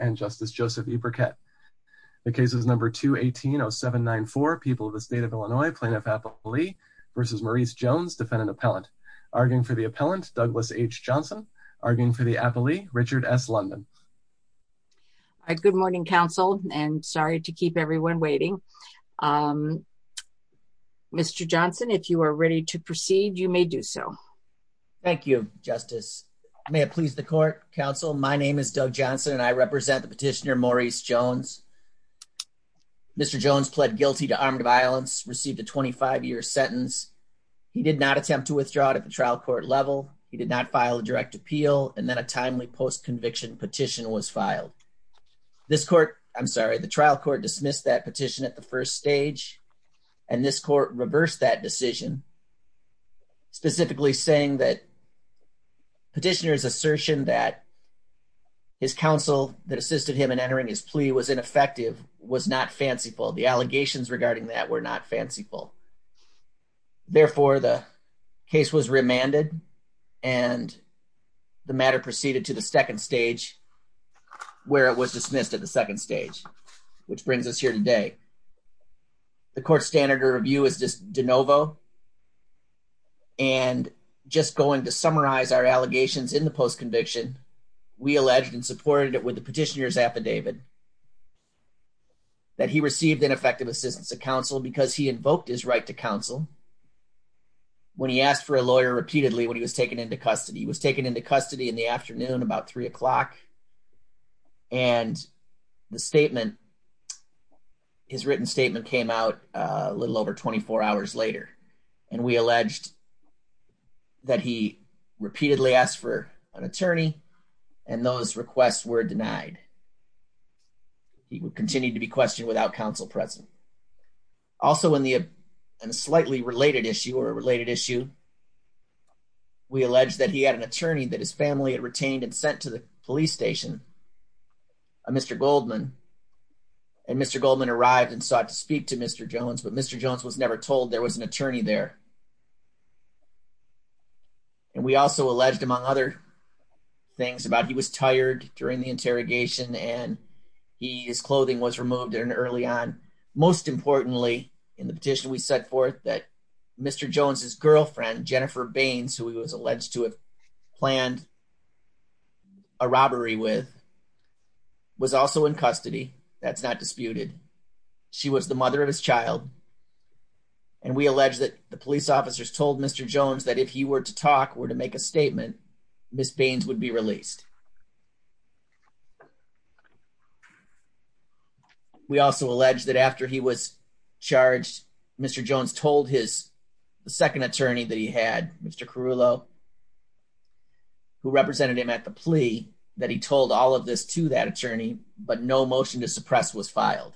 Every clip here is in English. and justice Joseph E. Burkett. The case is number 218-0794. People of the state of Illinois, Plaintiff Appellee v. Maurice Jones, defendant appellant. Arguing for the appellant, Douglas H. Johnson. Arguing for the appellee, Richard S. Lundin. Good morning, counsel, and sorry to keep everyone waiting. Mr. Johnson, if you are ready to proceed, you may do so. Thank you, Justice. May it please the court, counsel, my name is Doug Johnson and I represent the petitioner, Maurice Jones. Mr. Jones pled guilty to armed violence, received a 25-year sentence. He did not attempt to withdraw it at the trial court level. He did not file a direct appeal and then a timely post was filed. This court, I'm sorry, the trial court dismissed that petition at the first stage and this court reversed that decision, specifically saying that petitioner's assertion that his counsel that assisted him in entering his plea was ineffective was not fanciful. The allegations regarding that were not fanciful. Therefore, the case was remanded and the matter proceeded to the second stage where it was dismissed at the second stage, which brings us here today. The court's standard of review is this de novo and just going to summarize our allegations in the post-conviction, we alleged and supported it with the petitioner's affidavit that he received ineffective assistance of counsel because he invoked his right to counsel when he asked for a lawyer repeatedly when he was taken into custody. He was taken into custody in the afternoon about three o'clock and the statement, his written statement came out a little over 24 hours later and we alleged that he repeatedly asked for an attorney and those requests were denied. He would continue to be questioned without counsel present. Also in the slightly related issue or a related issue, we alleged that he had an attorney that his family had retained and sent to the police station, a Mr. Goldman, and Mr. Goldman arrived and sought to speak to Mr. Jones, but Mr. Jones was never told there was an attorney there. And we also alleged among other things about he was tired during the interrogation and he, his clothing was removed early on. Most importantly, in the petition, we set forth that Mr. Jones's girlfriend, Jennifer Baines, who he was alleged to have planned a robbery with, was also in custody. That's not disputed. She was the mother of his child and we alleged that the police officers told Mr. Jones that if he were to talk or to make a statement, Ms. Baines would be released. We also alleged that after he was charged, Mr. Jones told his second attorney that he had, Mr. Carrullo, who represented him at the plea, that he told all of this to that attorney, but no motion to suppress was filed.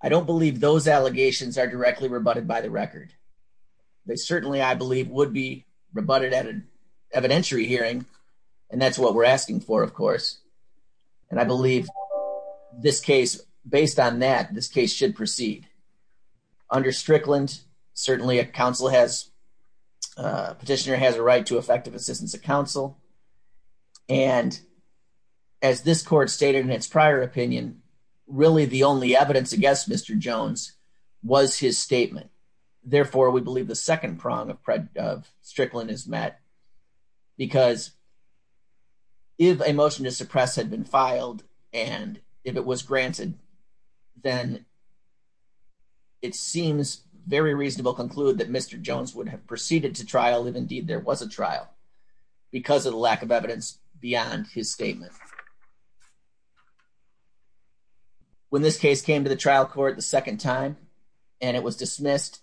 I don't believe those allegations are directly rebutted by the record. They certainly, I believe, would be rebutted at an evidentiary hearing, and that's what we're asking for, of course. And I believe this case, based on that, this case should proceed. Under Strickland's, certainly a counsel has, petitioner has a right to effective assistance of counsel. And as this court stated in its prior opinion, really the only evidence against Mr. Jones was his statement. Therefore, we believe the second prong of Strickland is met, because if a motion to suppress had been filed, and if it was granted, then it seems very reasonable to conclude that Mr. Jones would have proceeded to trial, if indeed there was a trial, because of the lack of evidence beyond his statement. When this case came to the trial court the second time, and it was dismissed,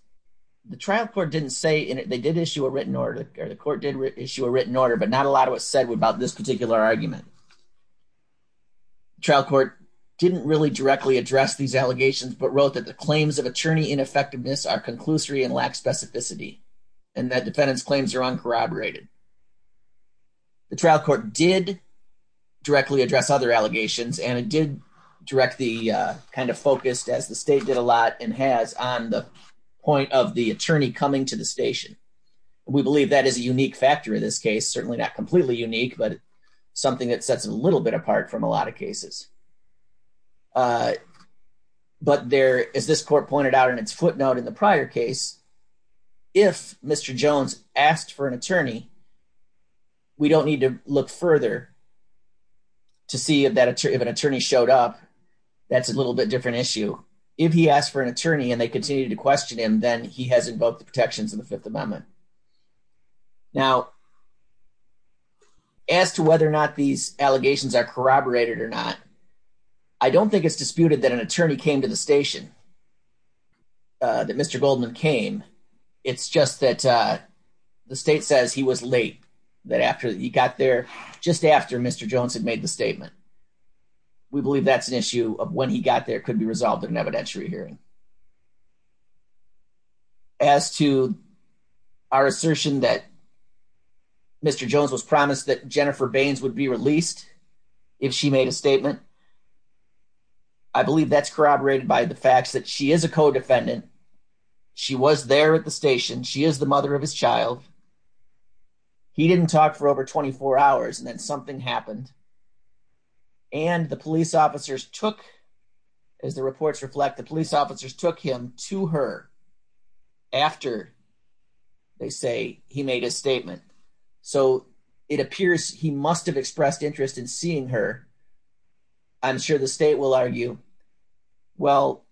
the trial court didn't say, and they did issue a written order, or the court did issue a written order, but not a lot of it said about this particular argument. The trial court didn't really directly address these allegations, but wrote that the claims of attorney ineffectiveness are conclusory and lack specificity, and that defendant's claims are uncorroborated. The trial court did directly address other allegations, and it did direct the, kind of focused, as the state did a lot and has, on the point of the attorney coming to the station. We believe that is a unique factor in this case, certainly not completely unique, but something that sets it a little bit apart from a lot of cases. But there, as this court pointed out in its footnote in the prior case, if Mr. Jones asked for an attorney, we don't need to look further to see if an attorney showed up, that's a little bit different issue. If he asked for an attorney, and they continued to question him, then he has invoked the protections in the Fifth Amendment. Now, as to whether or not these allegations are corroborated or not, I don't think it's disputed that an attorney came to the station, that Mr. Goldman came, it's just that the state says he was late, that after he got there, just after Mr. Jones had made the statement. We believe that's an issue of when he got there, could be resolved in an evidentiary hearing. As to our assertion that Mr. Jones was promised that Jennifer Baines would be released if she made a statement, I believe that's corroborated by the fact that she is a co-defendant, she was there at the station, she is the mother of his daughters, and then something happened, and the police officers took, as the reports reflect, the police officers took him to her after, they say, he made a statement. So, it appears he must have expressed interest in seeing her. I'm sure the state will argue, well,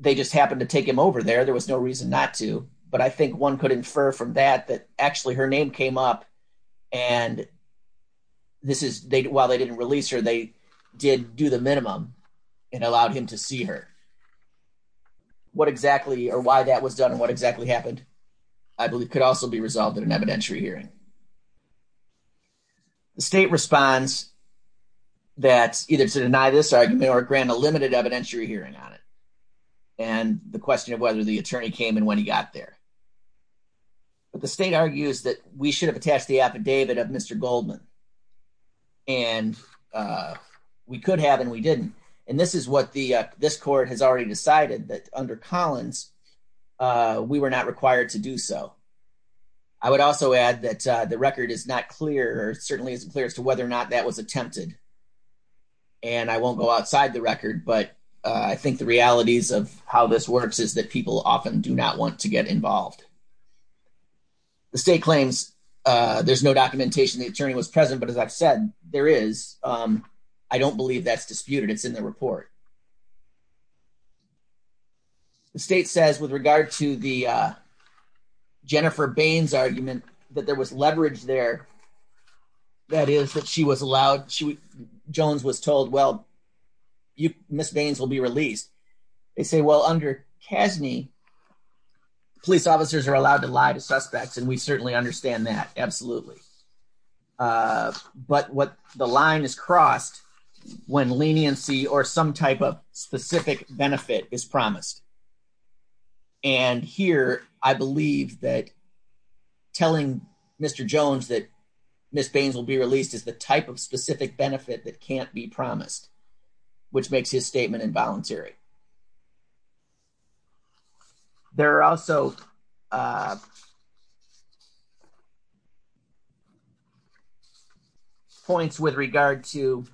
they just happened to take him over there, there was no reason not to, but I think one could infer from that that her name came up, and while they didn't release her, they did do the minimum and allowed him to see her. What exactly, or why that was done, what exactly happened, I believe could also be resolved in an evidentiary hearing. The state responds that either to deny this argument or grant a limited evidentiary hearing on it, and the question of whether the attorney came and when he got there. But the state argues that we should have attached the affidavit of Mr. Goldman, and we could have, and we didn't, and this is what the, this court has already decided, that under Collins, we were not required to do so. I would also add that the record is not clear, or certainly isn't clear, as to whether or not that was attempted, and I won't go outside the record, but I think the realities of how this works is that people often do not want to get involved. The state claims there's no documentation the attorney was present, but as I've said, there is. I don't believe that's disputed. It's in the report. The state says with regard to the Jennifer Baines argument that there was leverage there, that is, that she was allowed, she, Jones was told, well, Ms. Baines will be released. They say, well, under CASNY, police officers are allowed to lie to suspects, and we certainly understand that. Absolutely. But what, the line is crossed when leniency or some type of specific benefit is promised, and here, I believe that telling Mr. Jones that Ms. Baines will be released is the type of specific benefit that can't be promised, which makes his statement involuntary. There are also points with regard to,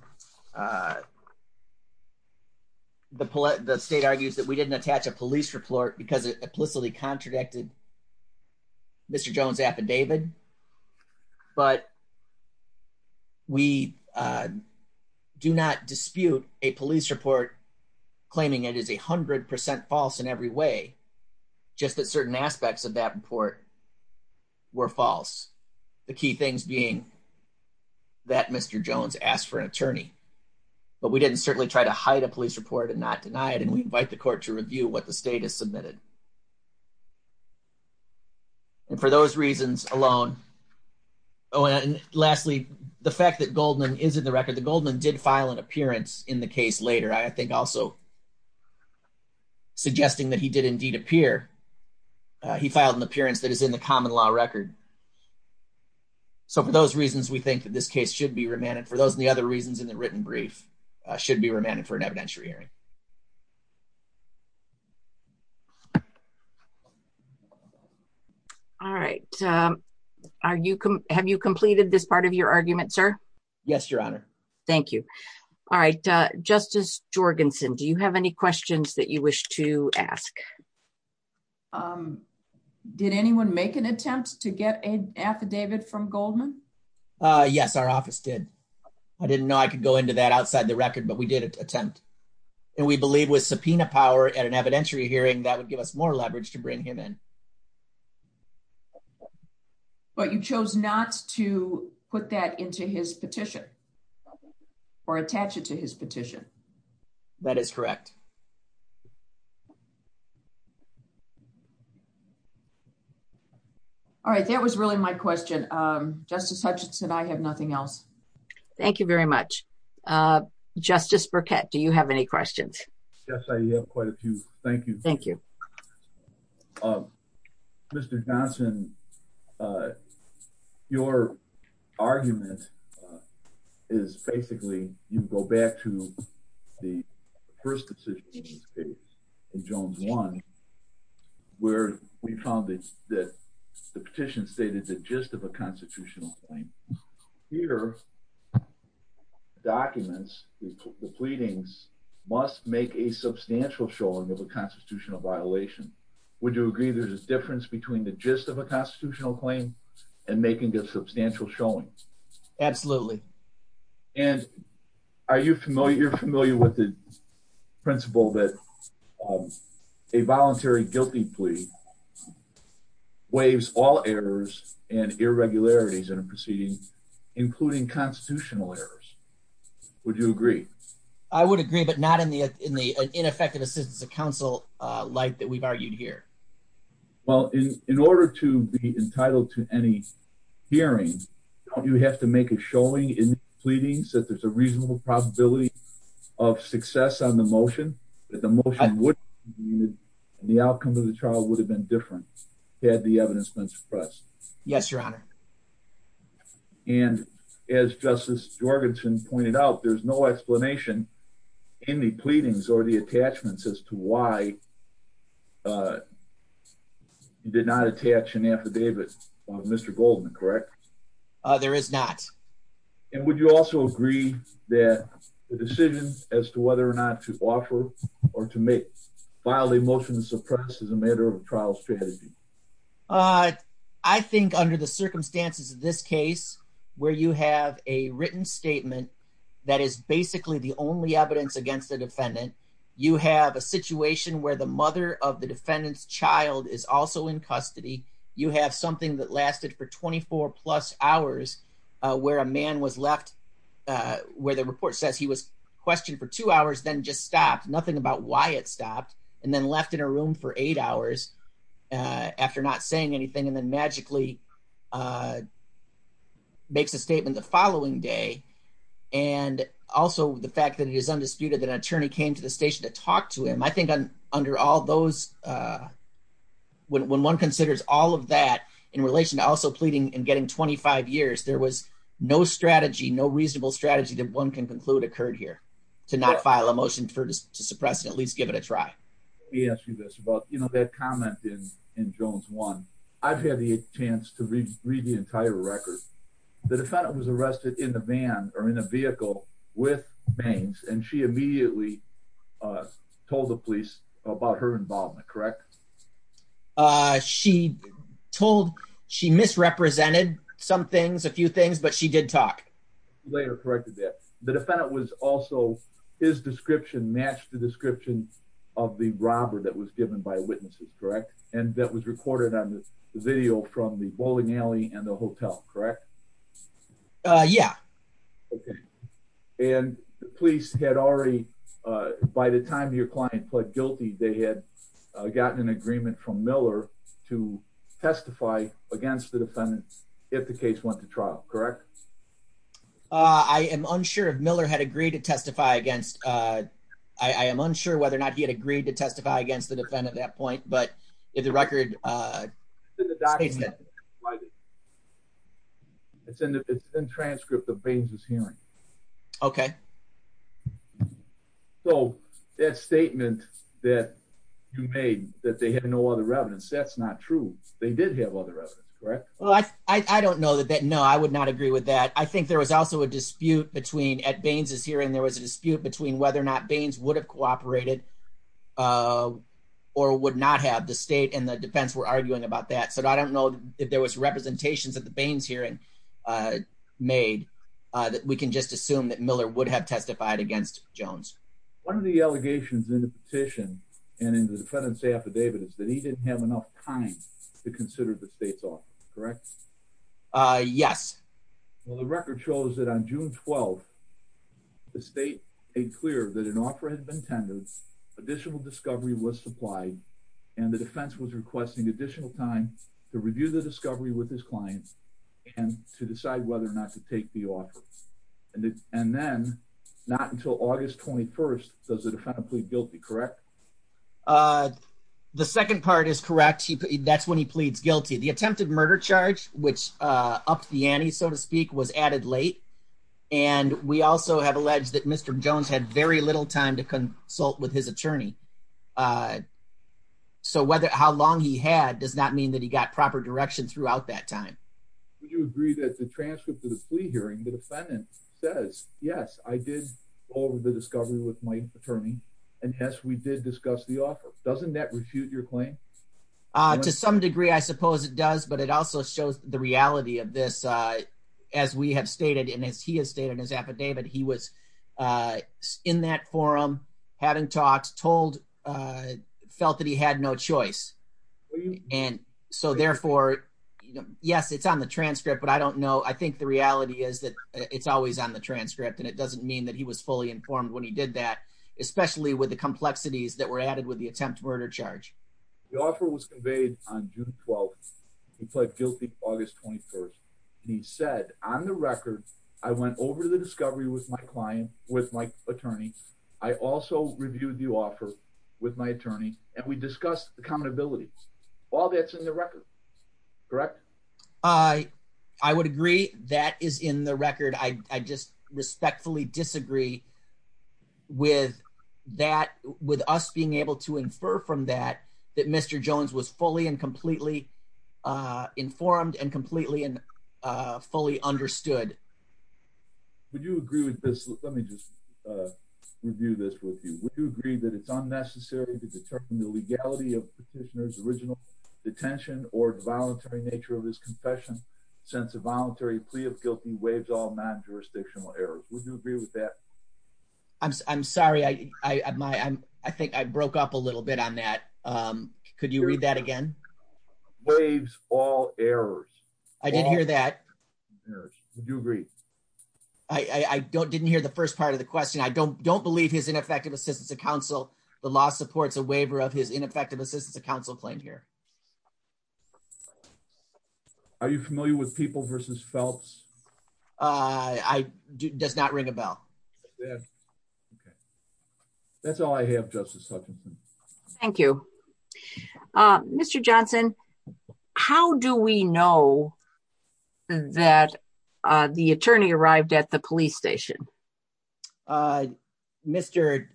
the state argues that we didn't attach a police report because it does not dispute a police report claiming it is 100% false in every way, just that certain aspects of that report were false. The key things being that Mr. Jones asked for an attorney, but we didn't certainly try to hide a police report and not deny it, and we invite the court to review what the state has submitted. And for those reasons alone, oh, and lastly, the fact that Goldman is in the record, that Goldman did file an appearance in the case later, I think also suggesting that he did indeed appear, he filed an appearance that is in the common law record. So, for those reasons, we think that this case should be remanded. For those and the other reasons in the written brief, it should be remanded for an evidentiary hearing. All right. Have you completed this part of your argument, sir? Yes, Your Honor. Thank you. All right. Justice Jorgensen, do you have any questions that you wish to ask? Did anyone make an attempt to get an affidavit from Goldman? Yes, our office did. I didn't know I could go into that outside the record, but we did attempt. And we believe with subpoena power at an evidentiary hearing, that would give us more leverage to bring him in. But you chose not to put that into his petition or attach it to his petition? That is correct. All right. That was really my question. Justice Hutchins, could I have nothing else? Thank you very much. Justice Burkett, do you have any questions? Yes, I have quite a few. Thank you. Thank you. Mr. Johnson, your argument is basically you go back to the first decision in Jones 1, where we found that the petition stated the gist of a constitutional claim. Here, documents, the pleadings, must make a substantial showing of a constitutional violation. Would you agree there's a difference between the gist of a constitutional claim and making a substantial showing? Absolutely. And are you familiar with the principle that a voluntary guilty plea that waives all errors and irregularities in a proceeding, including constitutional errors? Would you agree? I would agree, but not in the ineffective assistance of counsel like that we've argued here. Well, in order to be entitled to any hearings, don't you have to make a showing in the pleadings that there's a reasonable possibility of success on the motion, that the motion would be the outcome of the trial would have been different had the evidence been suppressed? Yes, Your Honor. And as Justice Jorgenson pointed out, there's no explanation in the pleadings or the attachments as to why you did not attach an affidavit on Mr. Goldman, correct? There is not. And would you also agree that the decision as to whether or not to offer or to file the motion suppressed is a matter of trial strategy? I think under the circumstances of this case, where you have a written statement that is basically the only evidence against the defendant, you have a situation where the mother of the defendant's child is also in custody, you have something that lasted for 24 plus hours, where a man was left, where the report says he was questioned for two hours, then just stopped, nothing about why it for eight hours after not saying anything, and then magically makes a statement the following day. And also the fact that it is understood that an attorney came to the station to talk to him. I think under all those, when one considers all of that in relation to also pleading and getting 25 years, there was no strategy, no reasonable strategy that one can conclude occurred here to not file a motion to suppress and at least give it a try. Let me ask you this about that comment in Jones 1. I've had the chance to read the entire record. The defendant was arrested in a van or in a vehicle with bangs, and she immediately told the police about her involvement, correct? She told, she misrepresented some things, a few things, but she did talk. Later corrected that. The defendant was also, his description matched the description of the robber that was given by witnesses, correct? And that was recorded on the video from the bowling alley and the hotel, correct? Yeah. Okay. And the police had already, by the time your client pled guilty, they had gotten an agreement from Miller to testify against the defendant if the case went to trial, correct? Uh, I am unsure if Miller had agreed to testify against, uh, I am unsure whether or not he had agreed to testify against the defendant at that point, but it's a record, uh, it's in the transcript of Baines' hearing. Okay. So that statement that you made that they had no other evidence, that's not true. They did have other evidence, right? Well, I don't know that, no, I would not agree with that. I think there was also a dispute between, at Baines' hearing, there was a dispute between whether or not Baines would have cooperated, uh, or would not have. The state and the defense were arguing about that, but I don't know if there was representations at the Baines hearing, uh, made, uh, that we can just assume that Miller would have testified against Jones. One of the allegations in the petition and in the defendant's affidavit is that he didn't have enough time to consider the state's office, correct? Uh, yes. Well, the record shows that on June 12th, the state made clear that an offer had been tendered, additional discovery was supplied, and the defense was requesting additional time to review the discovery with his client and to decide whether or not to take the offer. And then, not until August 21st, does the defendant plead guilty, correct? Uh, the second part is correct. That's when he pleads guilty. The attempted murder charge, which, uh, ups the ante, so to speak, was added late, and we also have alleged that Mr. Jones had very little time to consult with his attorney. Uh, so whether, how long he had does not mean that he got proper direction throughout that time. Would you agree that the transcript of the plea hearing, the defendant says, yes, I did all of the discovery with my attorney, and yes, we did discuss the offer? Doesn't that refute your claim? Uh, to some degree, I suppose it does, but it also shows the reality of this, uh, as we have stated, and as he has stated in his affidavit, he was, uh, in that forum, hadn't talked, told, uh, felt that he had no choice. And so, therefore, yes, it's on the transcript, but I don't know. I think the reality is that it's always on the transcript, and it doesn't mean that he was fully informed when he did that, especially with the complexities that were added with the attempt to murder charge. The offer was conveyed on June 12th. He pled guilty August 21st. He said, on the record, I went over the discovery with my client, with my attorney. I also reviewed the offer with my attorney, and we discussed the common abilities. All that's in the record, correct? Uh, I would agree that is in the record. I, I just respectfully disagree with that, with us being able to infer from that, that Mr. Jones was fully and completely, uh, informed and completely and, uh, fully understood. Would you agree with this? Let me just, uh, review this with you. Would you agree that it's unnecessary to determine the legality of the petitioner's original detention or the voluntary nature of his confession since a voluntary plea of guilty waives all non-jurisdictional errors? Would you agree with that? I'm, I'm sorry. I, I, my, I'm, I think I broke up a little bit on that. Um, could you read that again? Waives all errors. I didn't hear that. You agree? I, I, I don't, didn't hear the first part of the question. I don't, don't believe his ineffective assistance to counsel. The law supports a waiver of his ineffective assistance to counsel claim here. Are you familiar with people versus belts? Uh, I does not ring a bell. That's all I have. Justice. Thank you, Mr. Johnson. How do we know that, uh, the attorney arrived at the police station? Uh, Mr.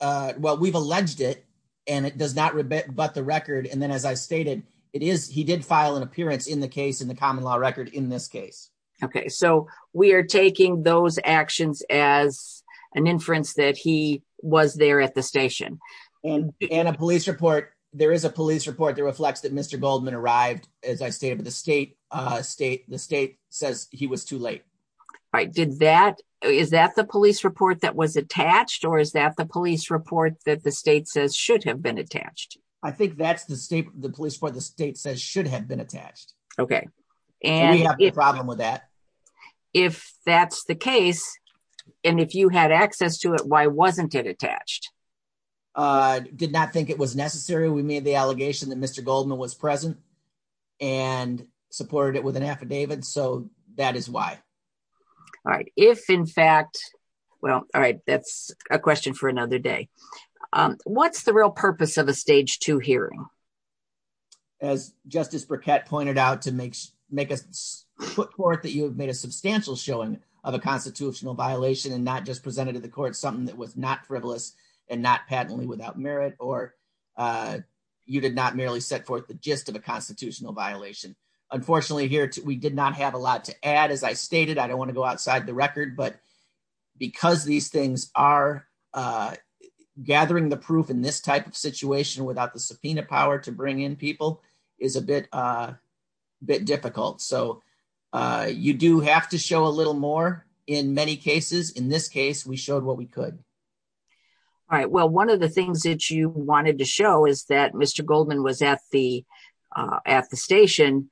Uh, well, we've alleged it and it does not rebut the record. And then as I stated, it is, he did file an appearance in the case in the common law record in this case. Okay. So we are taking those actions as an inference that he was there at the station and a police report. There is a police report that reflects that Mr. Goldman arrived as I stated, the state, uh, state, the state says he was too late. Right. Did that, is that the police report that was attached or is that the police report that the state says should have been attached? I think that's the state, the police for the state says should have been attached. Okay. And if that's the case and if you had access to it, why wasn't it attached? Uh, did not think it was necessary. We made the allegation that Mr. Goldman was present and supported it with an affidavit. So that is why. All right. If in fact, well, all right, that's a question for another day. Um, what's the real purpose of a stage two hearing? As Justice Burkett pointed out to make, make a foot forth that you have made a substantial showing of a constitutional violation and not just presented to the court, something that was not frivolous and not patently without merit, or, uh, you did not merely set forth the gist of a constitutional violation. Unfortunately here, we did not have a lot to add. As I stated, I don't are, uh, gathering the proof in this type of situation without the subpoena power to bring in people is a bit, uh, bit difficult. So, uh, you do have to show a little more in many cases. In this case, we showed what we could. All right. Well, one of the things that you wanted to show is that Mr. Goldman was at the, uh, at the station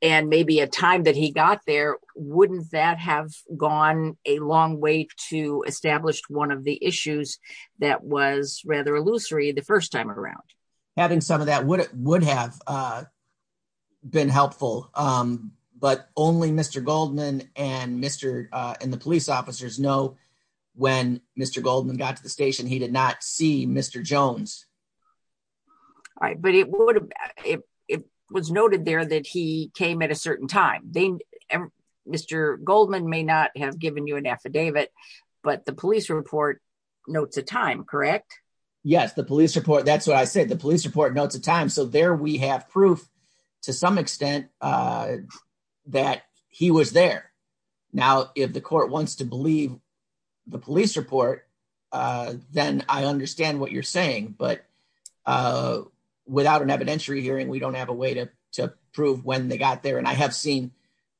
and maybe a time that he got there, wouldn't that have gone a long way to establish one of the issues that was rather illusory the first time around? Having some of that would have, uh, been helpful. Um, but only Mr. Goldman and Mr., uh, and the police officers know when Mr. Goldman got to the station, he did not see Mr. Jones. All right. But it would have, it was noted there that he came at a certain time. Mr. Goldman may not have given you an affidavit, but the police report notes the time, correct? Yes. The police report. That's what I said. The police report notes the time. So there we have proof to some extent, uh, that he was there. Now, if the court wants to believe the police report, uh, then I understand what you're saying, but, uh, without an evidentiary hearing, we don't have a way to, to prove when they got there. And I have seen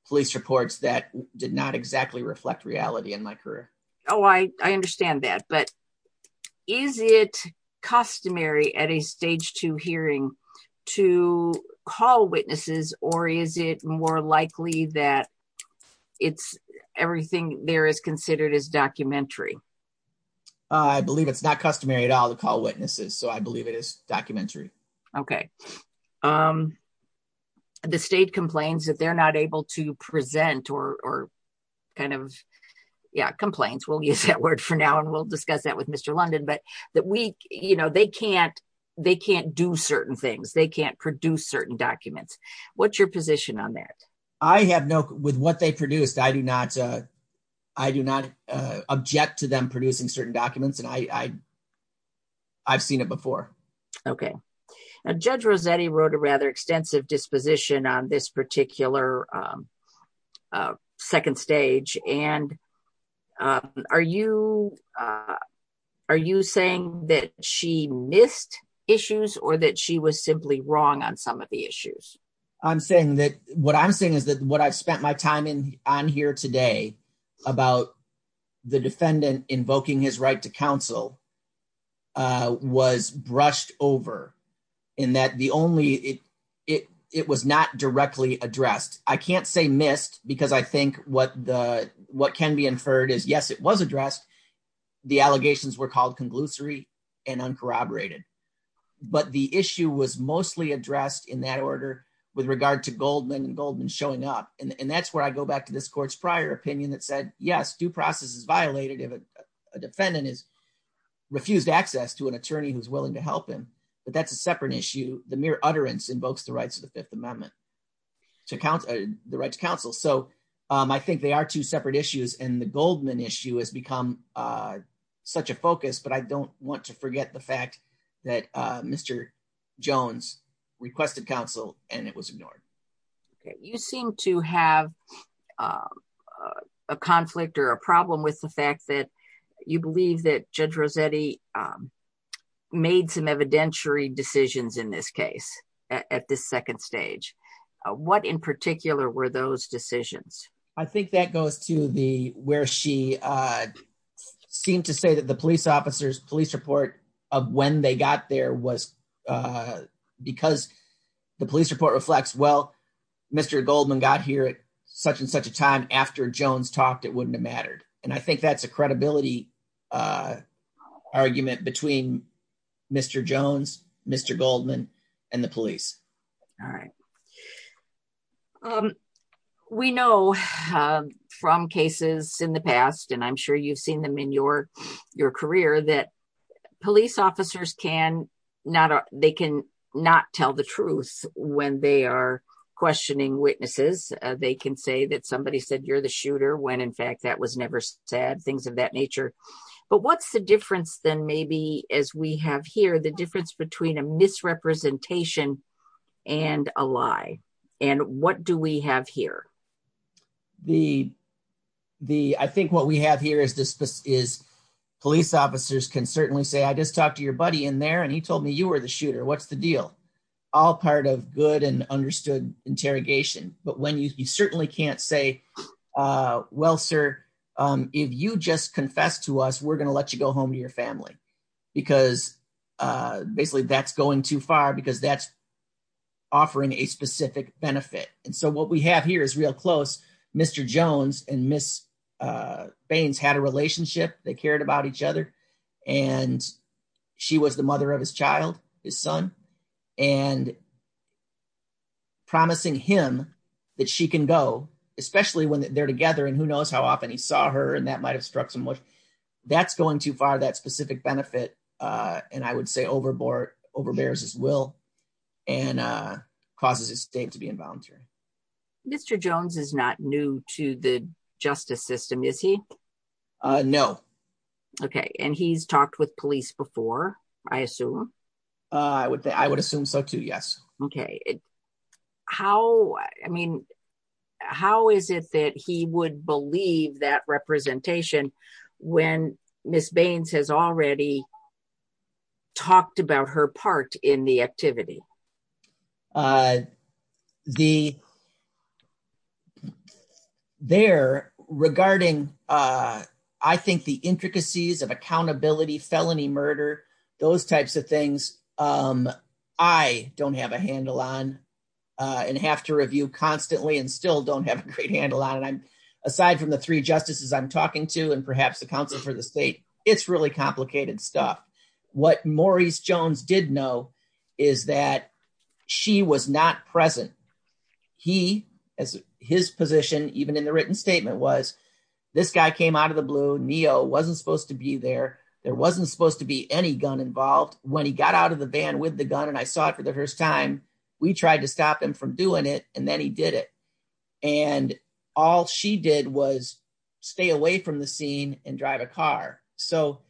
police reports that did not exactly reflect reality in my career. Oh, I, I understand that, but is it customary at a stage two hearing to call witnesses or is it more likely that it's everything there is considered as documentary? Uh, I believe it's not customary at all to call witnesses. So I believe it is documentary. Okay. Um, the state complains that they're not able to present or, or kind of, yeah, complaints. We'll use that word for now and we'll discuss that with Mr. London, but that we, you know, they can't, they can't do certain things. They can't produce certain documents. What's your position on that? I have no, with what they produced, I do not, uh, I do not, uh, object to them producing certain documents and I, I, I've seen it before. Okay. Judge Rossetti wrote a rather extensive disposition on this particular, um, uh, second stage. And, um, are you, uh, are you saying that she missed issues or that she was simply wrong on some of the issues? I'm saying that what I'm saying is that what I've spent my time in on here today about the defendant invoking his right to counsel, uh, was brushed over in that the only, it, it, it was not directly addressed. I can't say missed because I think what the, what can be inferred is yes, it was addressed. The allegations were called conglutinary and uncorroborated, but the issue was mostly addressed in that order with regard to Goldman showing up. And that's where I go back to this court's prior opinion that said, yes, due process is violated. If a defendant is refused access to an attorney who's willing to help him, but that's a separate issue. The mere utterance invokes the rights of the fifth amendment to count the right to counsel. So, um, I think they are two separate issues and the Goldman issue has become, uh, such a focus, but I don't want to forget the fact that, uh, Mr. Jones requested counsel and it was ignored. Okay. You seem to have, um, uh, a conflict or a problem with the fact that you believe that judge Rossetti, um, made some evidentiary decisions in this case at this second stage. Uh, what in particular were those decisions? I think that goes to the, where she, uh, seemed to say that the police officers police report of when they got there was, uh, because the police report reflects, well, Mr. Goldman got here at such and such a time after Jones talked, it wouldn't have mattered. And I think that's a credibility, uh, argument between Mr. Jones, Mr. Goldman and the police. All right. Um, we know, um, from cases in the past, and I'm sure you've seen them in your, your career that police officers can not, they can not tell the truth when they are questioning witnesses. Uh, they can say that somebody said, you're the shooter. When in fact that was never said things of that nature, but what's the difference then maybe as we have here, the difference between a misrepresentation and a lie and what do we have here? The, the, I think what we have here is this is police officers can certainly say, I just talked to your buddy in there and he told me you were the shooter. What's the deal? All part of good and understood interrogation. But when you, you certainly can't say, uh, well, sir, um, if you just confess to us, we're going to let you go home to your benefit. And so what we have here is real close. Mr. Jones and miss, uh, Baines had a relationship. They cared about each other and she was the mother of his child, his son and promising him that she can go, especially when they're together. And who knows how often he saw her and that might have struck him with that's going too far, that specific benefit. Uh, and I would say overboard overbears as well and, uh, causes it to be involuntary. Mr. Jones is not new to the justice system, is he? Uh, no. Okay. And he's talked with police before, I assume. Uh, I would, I would assume so too. Yes. Okay. How, I mean, how is it that he would believe that representation when miss Baines has already talked about her part in the activity? Uh, the, they're regarding, uh, I think the intricacies of accountability, felony murder, those types of things. Um, I don't have a handle on, uh, and have to review constantly and still don't have a great handle on it. I'm aside from the three justices I'm talking to and perhaps the counselor for the state, it's really complicated stuff. What Maurice Jones did know is that she was not present. He, as his position, even in the written statement was this guy came out of the blue. Neo wasn't supposed to be there. There wasn't supposed to be any gun involved when he got out of the van with the gun. And I saw it for the first time, we tried to stop him from doing it and then he did it. And all she did was stay away from the scene and drive a car. So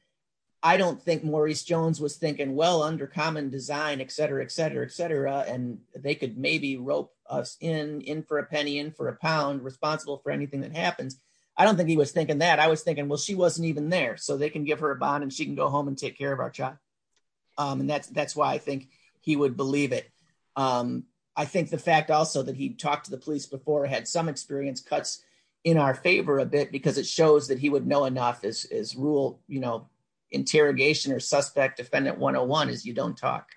I don't think Maurice Jones was thinking well under common design, et cetera, et cetera, et cetera. And they could maybe rope us in, in for a penny, in for a pound responsible for anything that happened. I don't think he was thinking that I was thinking, well, she wasn't even there. So they can give her a bond and she can go home and take care of our child. Um, and that that's why I would believe it. Um, I think the fact also that he'd talked to the police before, had some experience cuts in our favor a bit because it shows that he would know enough as, as rule, you know, interrogation or suspect defendant one-on-one is you don't talk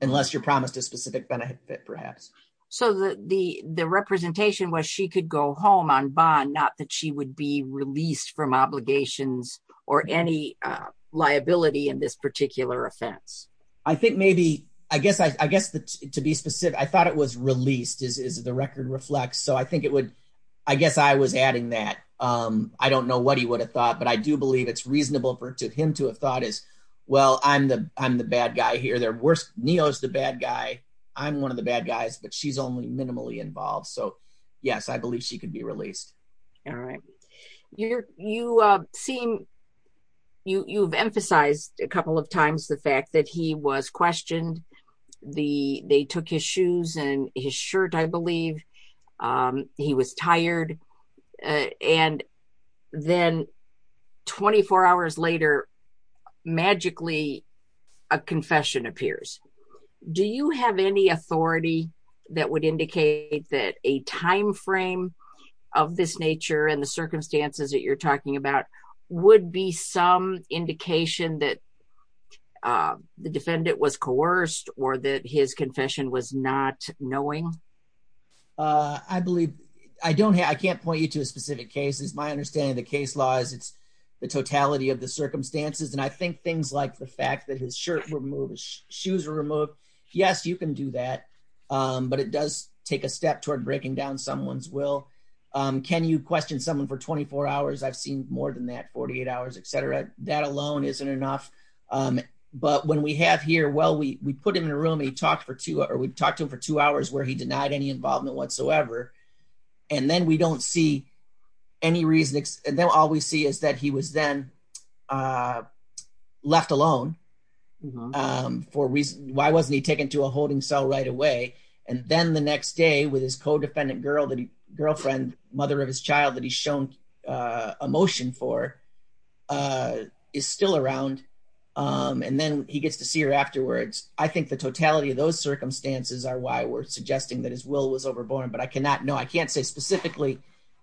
unless you're promised a specific benefit perhaps. So the, the, the representation was she could go home on bond, not that she would be released from obligations or any liability in this particular offense. I think maybe, I guess, I guess to be specific, I thought it was released is the record reflects. So I think it would, I guess I was adding that. Um, I don't know what he would have thought, but I do believe it's reasonable for him to have thought is, well, I'm the, I'm the bad guy here. They're worse. Nino's the bad guy. I'm one of the bad guys, but she's only minimally involved. So yes, I believe she could be released. All right. You, you, uh, seem, you, you've emphasized a was questioned the, they took his shoes and his shirt. I believe, um, he was tired. Uh, and then 24 hours later, magically a confession appears. Do you have any authority that would indicate that a timeframe of this nature and the circumstances that you're talking about would be some indication that, uh, the defendant was coerced or that his confession was not knowing? Uh, I believe I don't have, I can't point you to a specific case is my understanding. The case law is it's the totality of the circumstances. And I think things like the fact that his shirt will move his shoes are removed. Yes, you can do that. Um, but it does take a step toward breaking down someone's will. Um, can you question someone for 24 hours? I've more than that, 48 hours, et cetera. That alone isn't enough. Um, but when we have here, well, we, we put him in a room and he talks for two or we've talked to him for two hours where he denied any involvement whatsoever. And then we don't see any reason. And then all we see is that he was then, uh, left alone. Um, for reason, why wasn't he taken to a holding cell right away? And then the next day with his co-defendant girl, the girlfriend, mother of his child that he's shown, uh, emotion for, uh, is still around. Um, and then he gets to see her afterwards. I think the totality of those circumstances are why we're suggesting that his will was overborne, but I cannot know. I can't say specifically,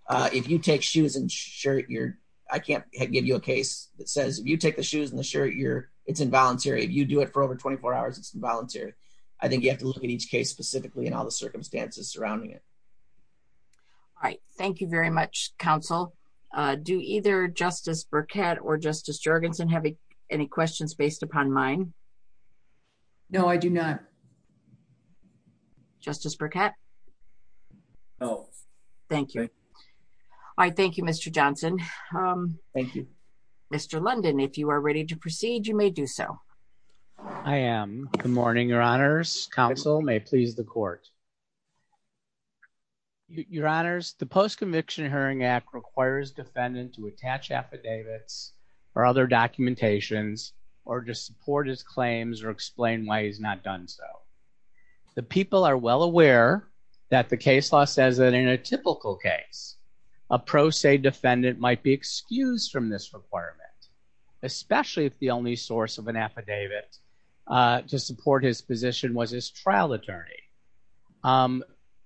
uh, if you take shoes and shirt, you're, I can't give you a case that says if you take the shoes and the shirt, you're it's involuntary. If you do it for over 24 hours, it's involuntary. I think you have to look at each case specifically and all the do either justice Burkett or justice Jurgensen have any questions based upon mine? No, I do not. Justice Burkett. Oh, thank you. I thank you, Mr. Johnson. Um, thank you, Mr. London. If you are ready to proceed, you may do so. I am good morning. Your honors council may please the court. Okay. Your honors, the post-conviction hearing act requires defendant to attach affidavits or other documentations, or just support his claims or explain why he's not done. So the people are well aware that the case law says that in a typical case, a pro se defendant might be excused from this requirement, especially if the only source of an attorney. Um,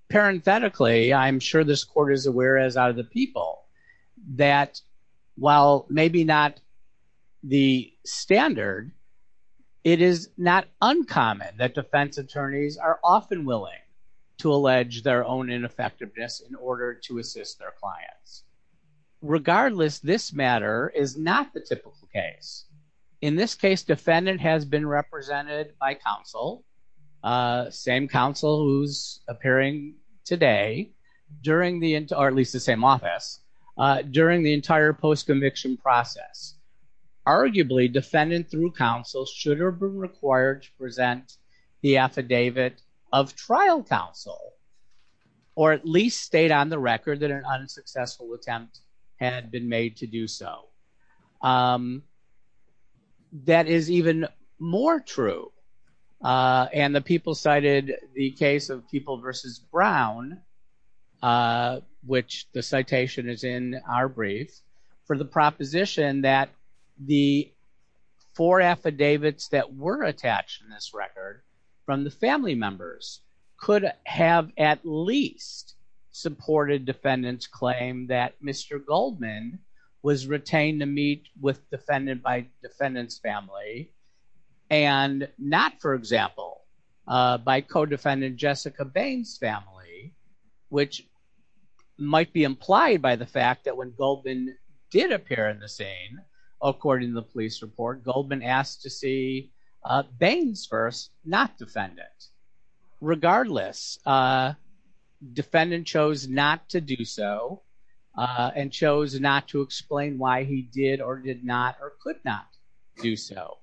parenthetically, I'm sure this court is aware as are the people that while maybe not the standard, it is not uncommon that defense attorneys are often willing to allege their own ineffectiveness in order to assist their clients. Regardless, this matter is not the typical case. In this case, defendant has been represented by counsel, uh, same counsel who's appearing today during the, or at least the same office, uh, during the entire post-conviction process. Arguably defendant through counsel should have been required to present the affidavit of trial counsel, or at least stayed on the record that an unsuccessful attempt had been made to do so. Um, that is even more true and the people cited the case of people versus Brown, uh, which the citation is in our brief for the proposition that the four affidavits that were attached in this record from the family members could have at least supported defendant's claim that Mr. Goldman was retained to meet with defendant's family and not, for example, uh, by co-defendant Jessica Baines' family, which might be implied by the fact that when Goldman did appear in the scene, according to the police report, Goldman asked to see, uh, Baines first, not defendant. Regardless, uh, defendant chose not to do so, uh, and chose not to explain why he did or did not, or could not do so.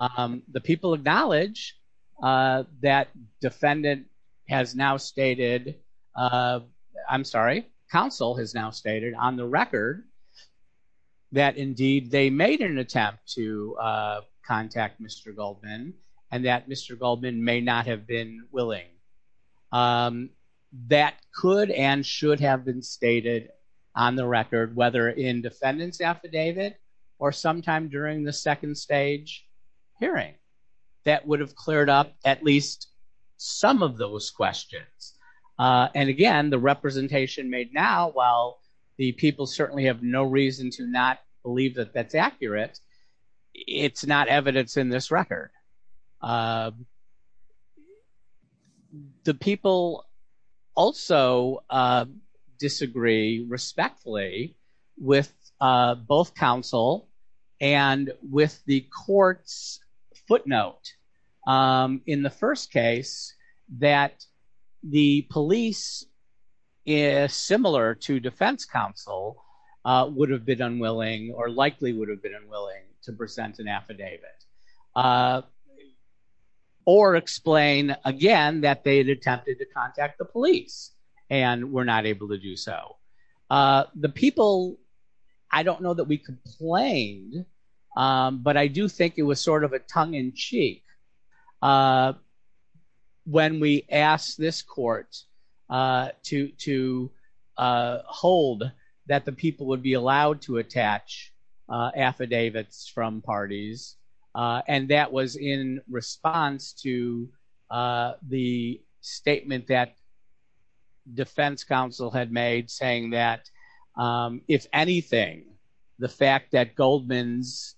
Um, the people acknowledge, uh, that defendant has now stated, uh, I'm sorry, counsel has now stated on the record that indeed they made an attempt to, uh, contact Mr. Goldman and that Mr. Goldman may not have been willing. Um, that could and should have been stated on the record, whether in defendant's affidavit or sometime during the second stage hearing that would have cleared up at least some of those questions. Uh, and again, the representation made now, while the people certainly have no reason to not believe that that's accurate, it's not evidence in this record. Uh, the people also, uh, disagree respectfully with, uh, both counsel and with the court's footnote. Um, in the first case that the police is similar to defense counsel, uh, would have been unwilling or likely would have been unwilling to present an affidavit, uh, or explain again that they had attempted to contact the police and were not able to do so. Uh, the people, I don't know that we complained, um, but I do think it was sort of a tongue in cheek, uh, when we asked this court, uh, to, to, uh, hold that the people would be allowed to attach, uh, affidavits from parties. Uh, and that was in response to, uh, the statement that defense counsel had made saying that, um, if anything, the fact that Goldman's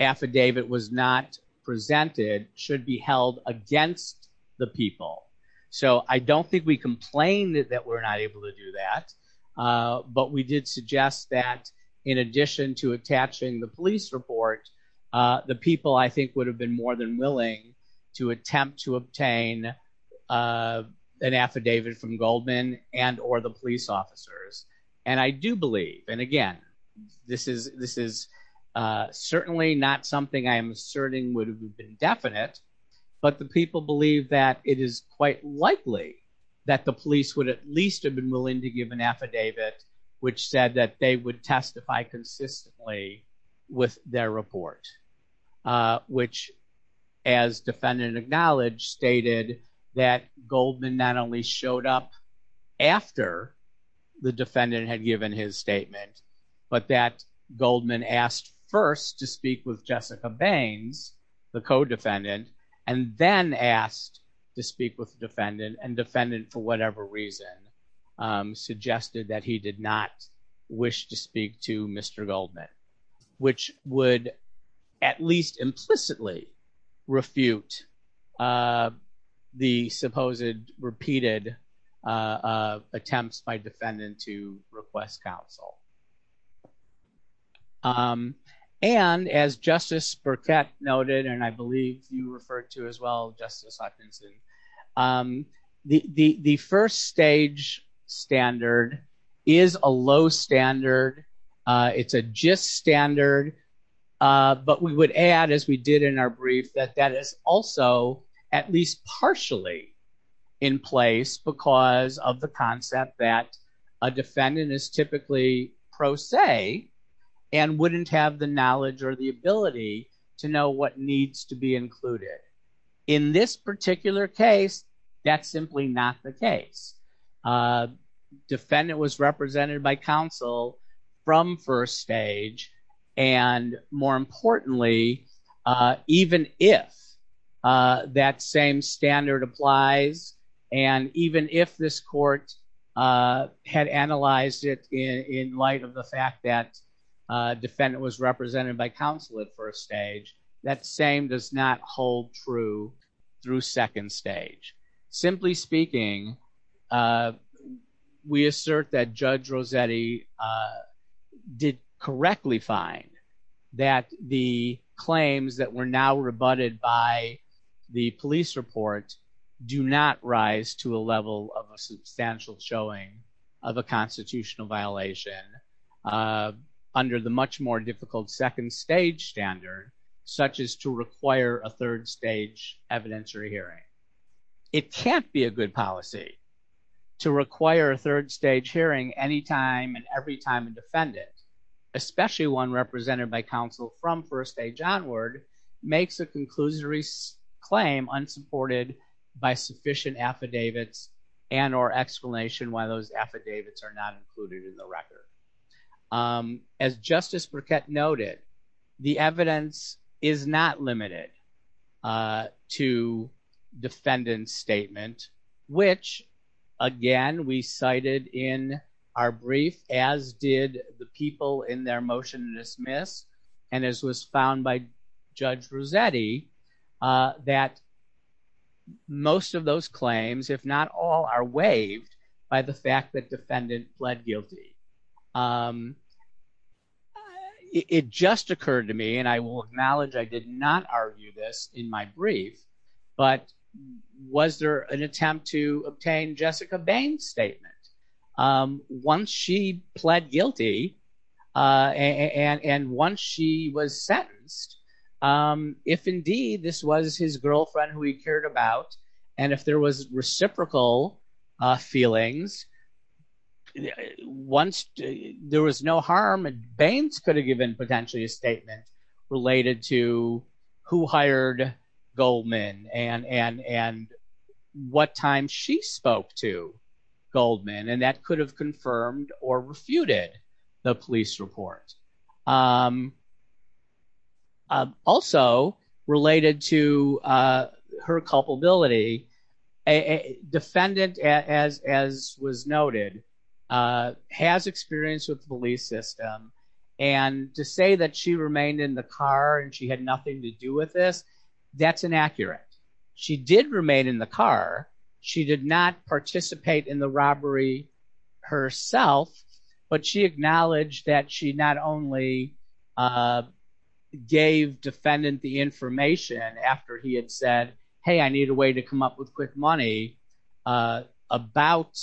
affidavit was not presented should be held against the people. So I don't think we complained that we're not able to do that. Uh, but we did suggest that in addition to attaching the police report, uh, the people, I think would have been more than willing to attempt to obtain, uh, an affidavit from Goldman and, or the police officers. And I do believe, and again, this is, this is, uh, certainly not something I'm asserting would have been definite, but the people believe that it is quite likely that the police would at least have been willing to give an affidavit, which said that they would testify consistently with their report, uh, which as defendant acknowledged stated that Goldman not only showed up after the defendant had given his statement, but that Goldman asked first to convene the co-defendant and then asked to speak with the defendant and defendant for whatever reason, um, suggested that he did not wish to speak to Mr. Goldman, which would at least implicitly refute, uh, the supposed repeated, uh, uh, attempts by defendant to request counsel. Um, and as Justice Burkett noted, and I believe you referred to as well, Justice Hutchinson, um, the, the, the first stage standard is a low standard. Uh, it's a gist standard, uh, but we would add, as we did in our brief, that that is also at least partially in place because of the concept that a defendant is typically pro se and wouldn't have the knowledge or the ability to know what needs to be included. In this particular case, that's simply not the case. Uh, defendant was represented by counsel from first stage. And more importantly, uh, even if, uh, that same standard applies, and even if this court, uh, had analyzed it in, in light of the fact that a defendant was represented by counsel at first stage, that same does not hold true through second stage. Simply speaking, uh, we assert that Judge Rossetti, uh, did correctly find that the claims that were now rebutted by the police reports do not rise to a level of a substantial showing of a constitutional violation, uh, under the much more difficult second stage standard, such as to require a third stage evidence or hearing. It can't be a good policy to require a third stage hearing anytime and every time a defendant, especially one from first stage onward, makes a conclusory claim unsupported by sufficient affidavits and or explanation why those affidavits are not included in the record. Um, as Justice Burkett noted, the evidence is not limited, uh, to defendant's statement, which again, we cited in our brief, as did the people in their motion to dismiss, and as was found by Judge Rossetti, uh, that most of those claims, if not all, are waived by the fact that defendant fled guilty. Um, it, it just occurred to me, and I will acknowledge I did not argue this in my brief, but was there an attempt to obtain Jessica Baines' statement? Um, once she pled guilty, uh, and, and once she was sentenced, um, if indeed this was his girlfriend who he cared about, and if there was reciprocal, uh, feelings, once there was no harm, Baines could have given potentially a statement related to who hired Goldman and, and, and what time she spoke to Goldman, and that could have confirmed or refuted the police report. Um, also related to, uh, her culpability, a defendant, as, as was noted, uh, has experience with the police system, and to say that she remained in the car and she had nothing to do with this, that's inaccurate. She did remain in the car. She did not participate in the robbery herself, but she acknowledged that she not only, uh, gave defendant the information after he had said, hey, I need a way to come up with quick money, uh, about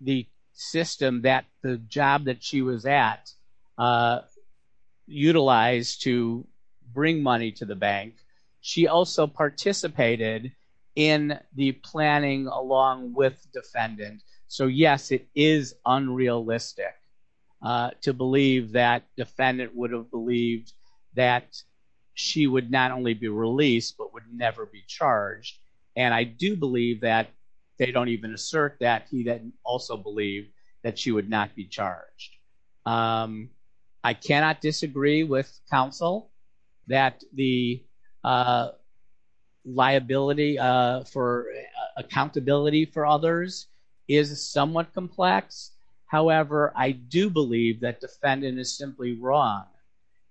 the system that the job that she was at, uh, utilized to bring money to the bank. She also participated in the planning along with defendant. So yes, it is unrealistic, uh, to believe that defendant would have believed that she would not only be released, but would never be charged. And I do believe that they don't even assert that he didn't also believe that she would not be charged. Um, I cannot disagree with counsel that the, uh, liability, uh, for accountability for others is somewhat complex. However, I do believe that defendant is simply wrong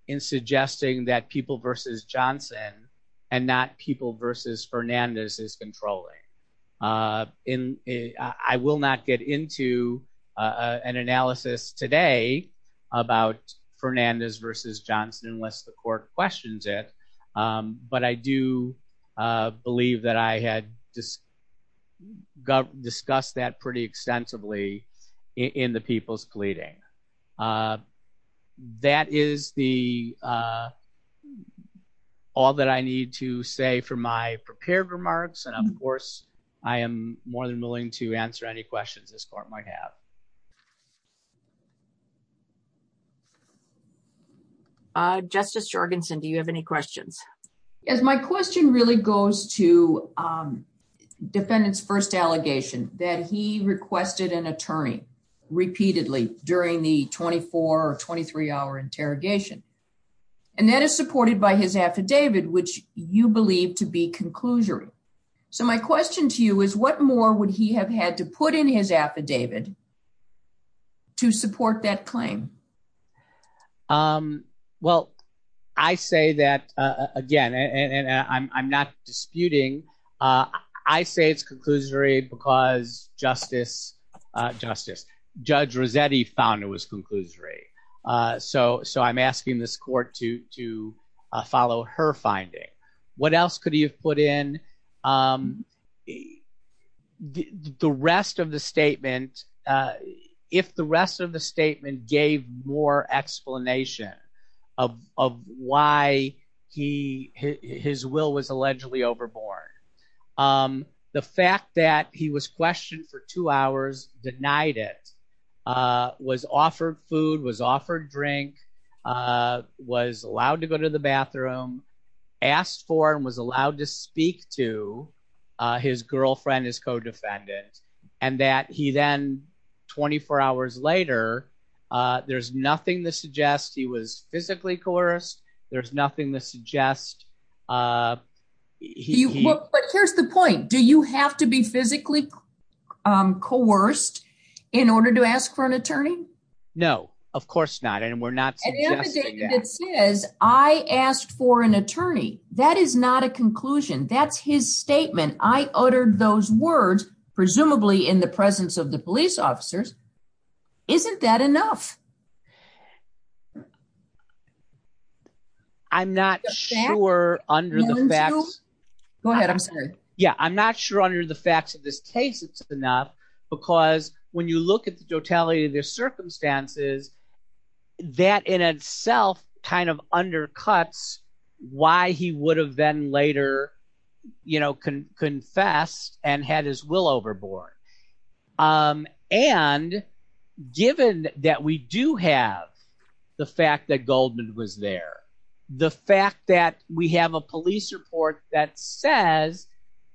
in suggesting that people versus Johnson and not people versus Fernandez is controlling, uh, in a, I will not get into, uh, an analysis today about Fernandez versus Johnson, unless the court questions it. Um, but I do, uh, believe that I had this discussed that pretty extensively in the people's pleading. Uh, that is the, uh, all that I need to say for my prepared remarks. And of course, I am more than willing to answer any questions this court might have. Uh, Justice Jorgensen, do you have any questions? As my question really goes to, um, defendant's first allegation that he requested an attorney repeatedly during the 24 or 23 hour interrogation, and that is supported by his affidavit, which you believe to be conclusory. So my question to you is what more would he have had to put in his again? And I'm not disputing. Uh, I say it's conclusory because justice, uh, justice judge Rosetti found it was conclusory. Uh, so, so I'm asking this court to, to, uh, follow her finding. What else could you put in? Um, the rest of the statement, uh, if the rest of the statement gave more explanation of, of why he, his will was allegedly overboard. Um, the fact that he was questioned for two hours, denied it, uh, was offered food, was offered drink, uh, was allowed to go to the bathroom, asked for, and was allowed to speak to, uh, his girlfriend, his co-defendant and that he then 24 hours later, uh, there's nothing that suggests he was physically coerced. There's nothing that suggests, uh, here's the point. Do you have to be physically, um, coerced in order to ask for an attorney? No, of course not. And we're not, I asked for an attorney. That is not a conclusion. That's his statement. I uttered those words, presumably in the presence of the police officers. Isn't that enough? I'm not sure under the facts. Go ahead. I'm sorry. Yeah. I'm not sure under the facts of this case it's enough because when you look at the totality of the circumstances, that in itself kind of undercuts why he would have been later, you know, can confess and had his will overboard. Um, and given that we do have the fact that Goldman was there, the fact that we have a police report that says,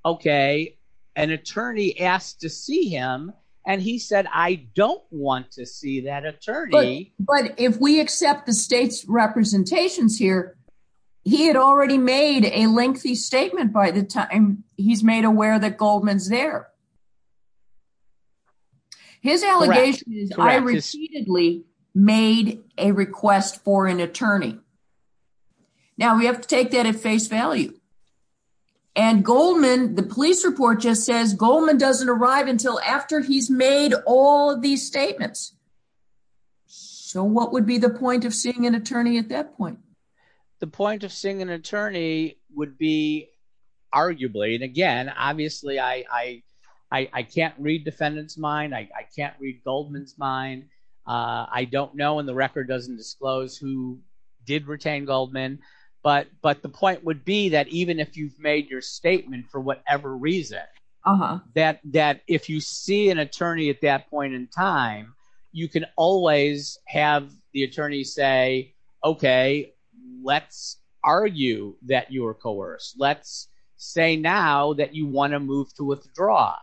okay, an attorney asked to see him. And he said, I don't want to see that attorney. But if we accept the state's representations here, he had already made a lengthy statement by the time he's made aware that Goldman's there. His allegation is I receivably made a request for an attorney. Now we have to take that at face value and Goldman, the police report just says Goldman doesn't arrive until after he's made all of these statements. So what would be the point of seeing an attorney at that point? The point of seeing an attorney would be arguably. And again, obviously I, I, I can't read defendant's mind. I can't read Goldman's mind. Uh, I don't know when the record doesn't disclose who did retain Goldman, but, but the point would be that even if you've made your statement for whatever reason, that, that if you see an attorney at that point in time, you can always have the argue that you were coerced. Let's say now that you want to move to withdraw.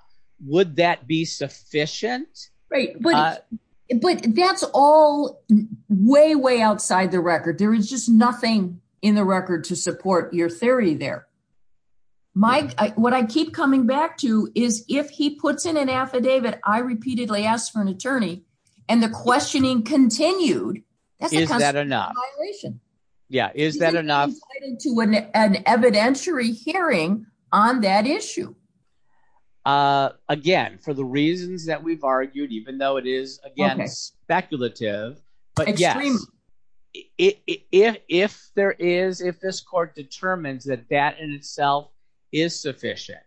Would that be sufficient? But that's all way, way outside the record. There is just nothing in the record to support your theory there. My, what I keep coming back to is if he puts in an affidavit, I repeatedly asked for an attorney and the questioning continued. Is that enough? Yeah. Is that enough to an evidentiary hearing on that issue? Uh, again, for the reasons that we've argued, even though it is speculative, but yeah, if there is, if this court determines that that in itself is sufficient,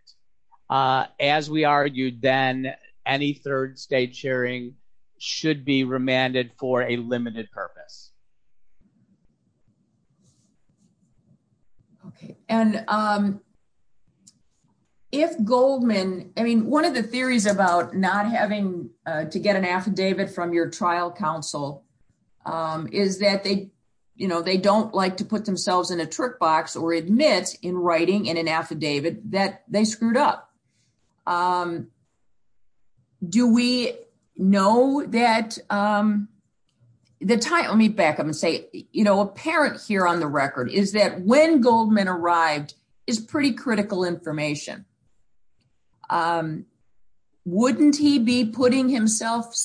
uh, as we argued, then any third state sharing should be remanded for a limited purpose. Okay. And, um, if Goldman, I mean, one of the theories about not having, uh, to get an affidavit from your trial counsel, um, is that they, you know, they don't like to put themselves in a trick box or admit in writing and an affidavit that they screwed up. Um, do we know that, um, the time let me back up and say, you know, apparent here on the record is that when Goldman arrived is pretty critical information. Um, wouldn't he be putting himself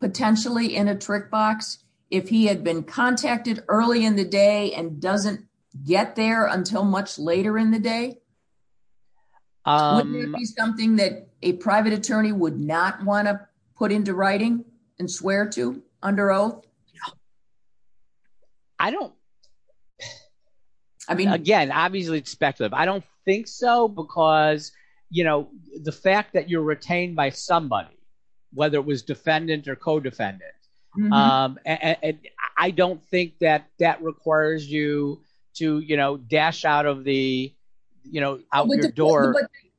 potentially in a trick box if he had been contacted early in the day and doesn't get there until much later in the day? Um, something that a private attorney would not want to put into writing and swear to under oath. I don't, I mean, again, obviously it's speculative. I don't think so because, you know, the fact that you're retained by somebody, whether it was defendant or co-defendant, um, and I don't think that that requires you to, you know, dash out of the, you know, out your door.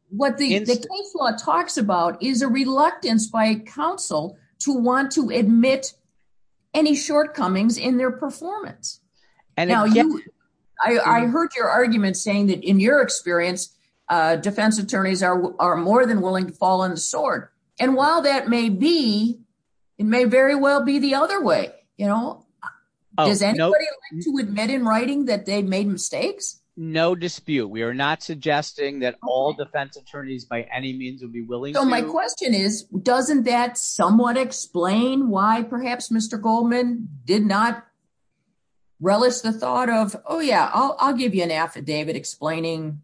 What the case law talks about is a reluctance by counsel to want to admit any shortcomings in their performance. I heard your argument saying that in your experience, uh, defense attorneys are more than willing to fall on the sword. And while that may be, it may very well be the other way, you know, to admit in writing that they made mistakes. No dispute. We are not suggesting that all defense attorneys by any means would be willing. So my question is, doesn't that somewhat explain why perhaps Mr. Goldman did not relish the thought of, oh yeah, I'll, I'll give you an affidavit explaining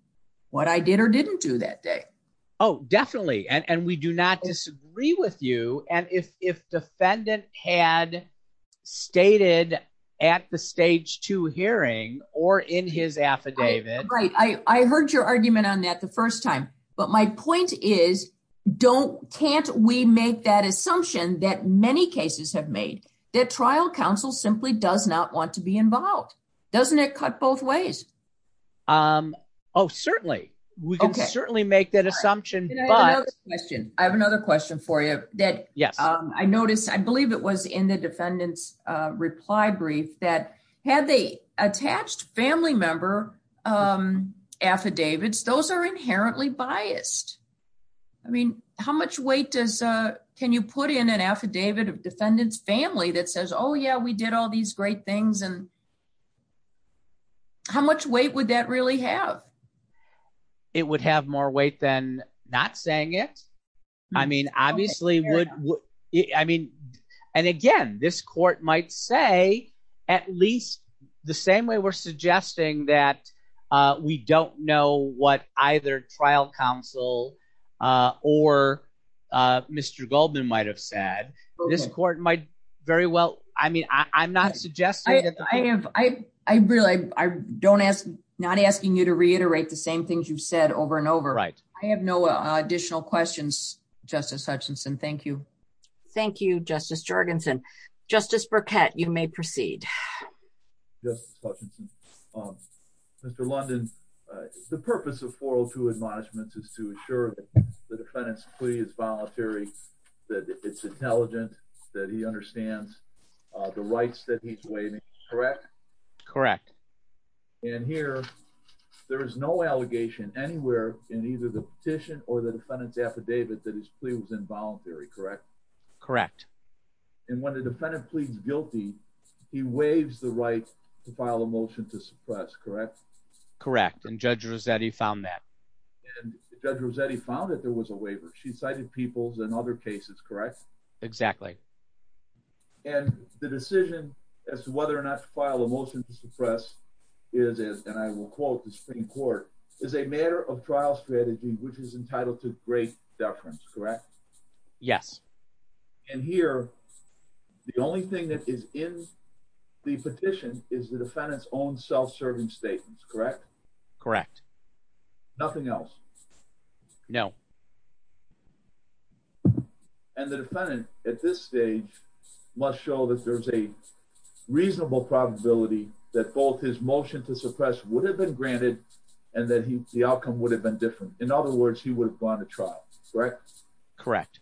what I did or didn't do that day. Oh, definitely. And we do not disagree with you. And if, if defendant had stated at the stage two hearing or in his affidavit. Right. I, I heard your argument on that the first time, but my point is don't, can't we make that assumption that many cases have made that trial counsel simply does not want to be involved. Doesn't it cut both ways? Um, oh, certainly. We can certainly make that assumption. I have another question for you that I noticed, I believe it was in the defendant's reply brief that had they attached family member, um, affidavits, those are inherently biased. I mean, how much weight does, uh, can you put in an affidavit of defendant's family that says, oh yeah, we did all these great things. And how much weight would that really have? It would have more weight than not saying it. I mean, obviously, I mean, and again, this court might say at least the same way we're suggesting that, uh, we don't know what either trial counsel, uh, or, uh, Mr. Goldman might've said this court might very well. I mean, I, I'm not suggesting that I have, I, I really, I don't ask, not asking you to reiterate the same things you've said over and over. Right. I have no additional questions, Justice Hutchinson. Thank you. Thank you, Justice Jorgensen. Justice Burkett, you may proceed. Justice Hutchinson, um, Mr. London, uh, the purpose of 402 admonishments is to ensure that the defendant's plea is voluntary, that it's intelligent, that he understands, uh, the rights that he's waiving, correct? Correct. And here, there is no allegation anywhere in either the petition or the defendant's affidavit that his plea was involuntary, correct? Correct. And when the defendant pleads guilty, he waives the right to file a motion to suppress, correct? Correct. And Judge Rossetti found that. And Judge Rossetti found that there was a waiver. She cited Peoples and other cases, correct? Exactly. And the decision as to whether or not to file a motion to suppress is, and I will quote the Supreme Court, is a matter of trial strategy, which is entitled to great deference, correct? Yes. And here, the only thing that is in the petition is the defendant's own self-serving statements, correct? Correct. Nothing else? No. And the defendant, at this stage, must show that there's a reasonable probability that both his motion to suppress would have been granted and that he, the outcome would have been different. In other words, he would have gone to trial, correct? Correct.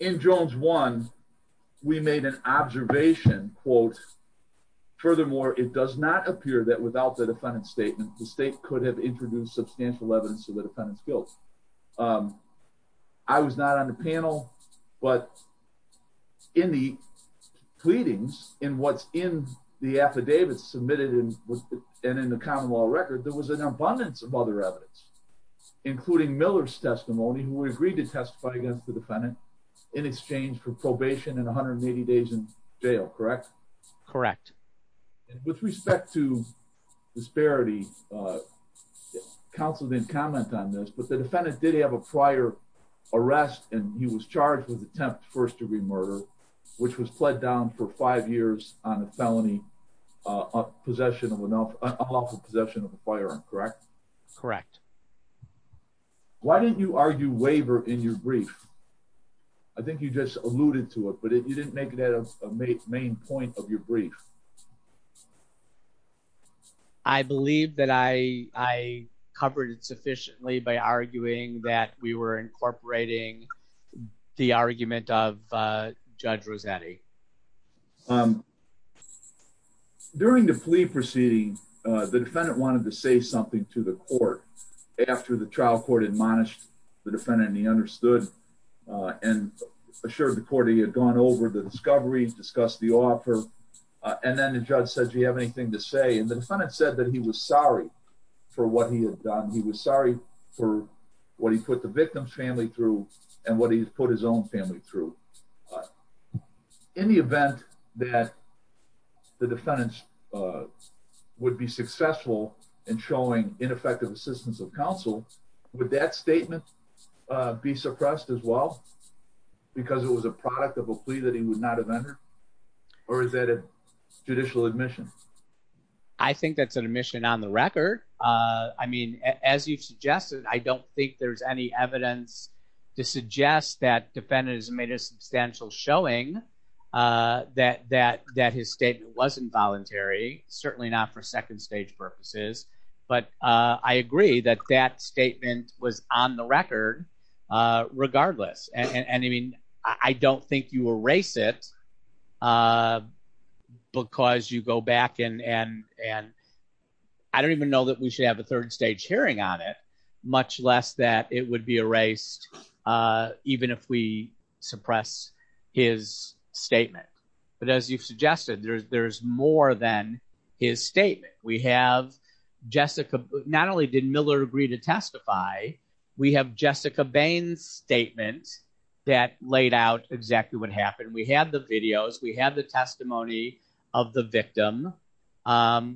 In Jones 1, we made an observation, quote, furthermore, it does not appear that without the defendant's statement, the state could have produced substantial evidence of the defendant's guilt. I was not on the panel, but in the pleadings, in what's in the affidavits submitted and in the common law record, there was an abundance of other evidence, including Miller's testimony, who agreed to testify against the defendant in exchange for probation and 180 days in jail, correct? Correct. And with respect to disparity, counsel didn't comment on this, but the defendant did have a prior arrest, and he was charged with attempt first-degree murder, which was pled down for five years on a felony possession of an unlawful possession of a firearm, correct? Correct. Why did you argue waiver in your brief? I think you just alluded to it, but you didn't make it as a main point of your brief. I believe that I covered it sufficiently by arguing that we were incorporating the argument of Judge Rossetti. During the plea proceeding, the defendant wanted to say something to the court after the trial court admonished the defendant and he understood and assured the court he had gone over the discovery, discussed the offer, and then the judge said, do you have anything to say? And the defendant said that he was sorry for what he had done. He was sorry for what he put the victim's family through and what he put his own family through. In the event that the defendant would be successful in showing ineffective assistance of his will, because it was a product of a plea that he would not have entered, or is that a judicial admission? I think that's an admission on the record. I mean, as you've suggested, I don't think there's any evidence to suggest that the defendant has made a substantial showing that his statement was involuntary, certainly not for second-stage purposes, but I agree that that statement was on the record regardless. I mean, I don't think you erase it because you go back and I don't even know that we should have a third-stage hearing on it, much less that it would be erased even if we suppress his statement. But as you've suggested, there's more than his statement. We have Jessica, not only did Miller agree to testify, we have Jessica Bain's statement that laid out exactly what happened. We have the videos, we have the testimony of the victim.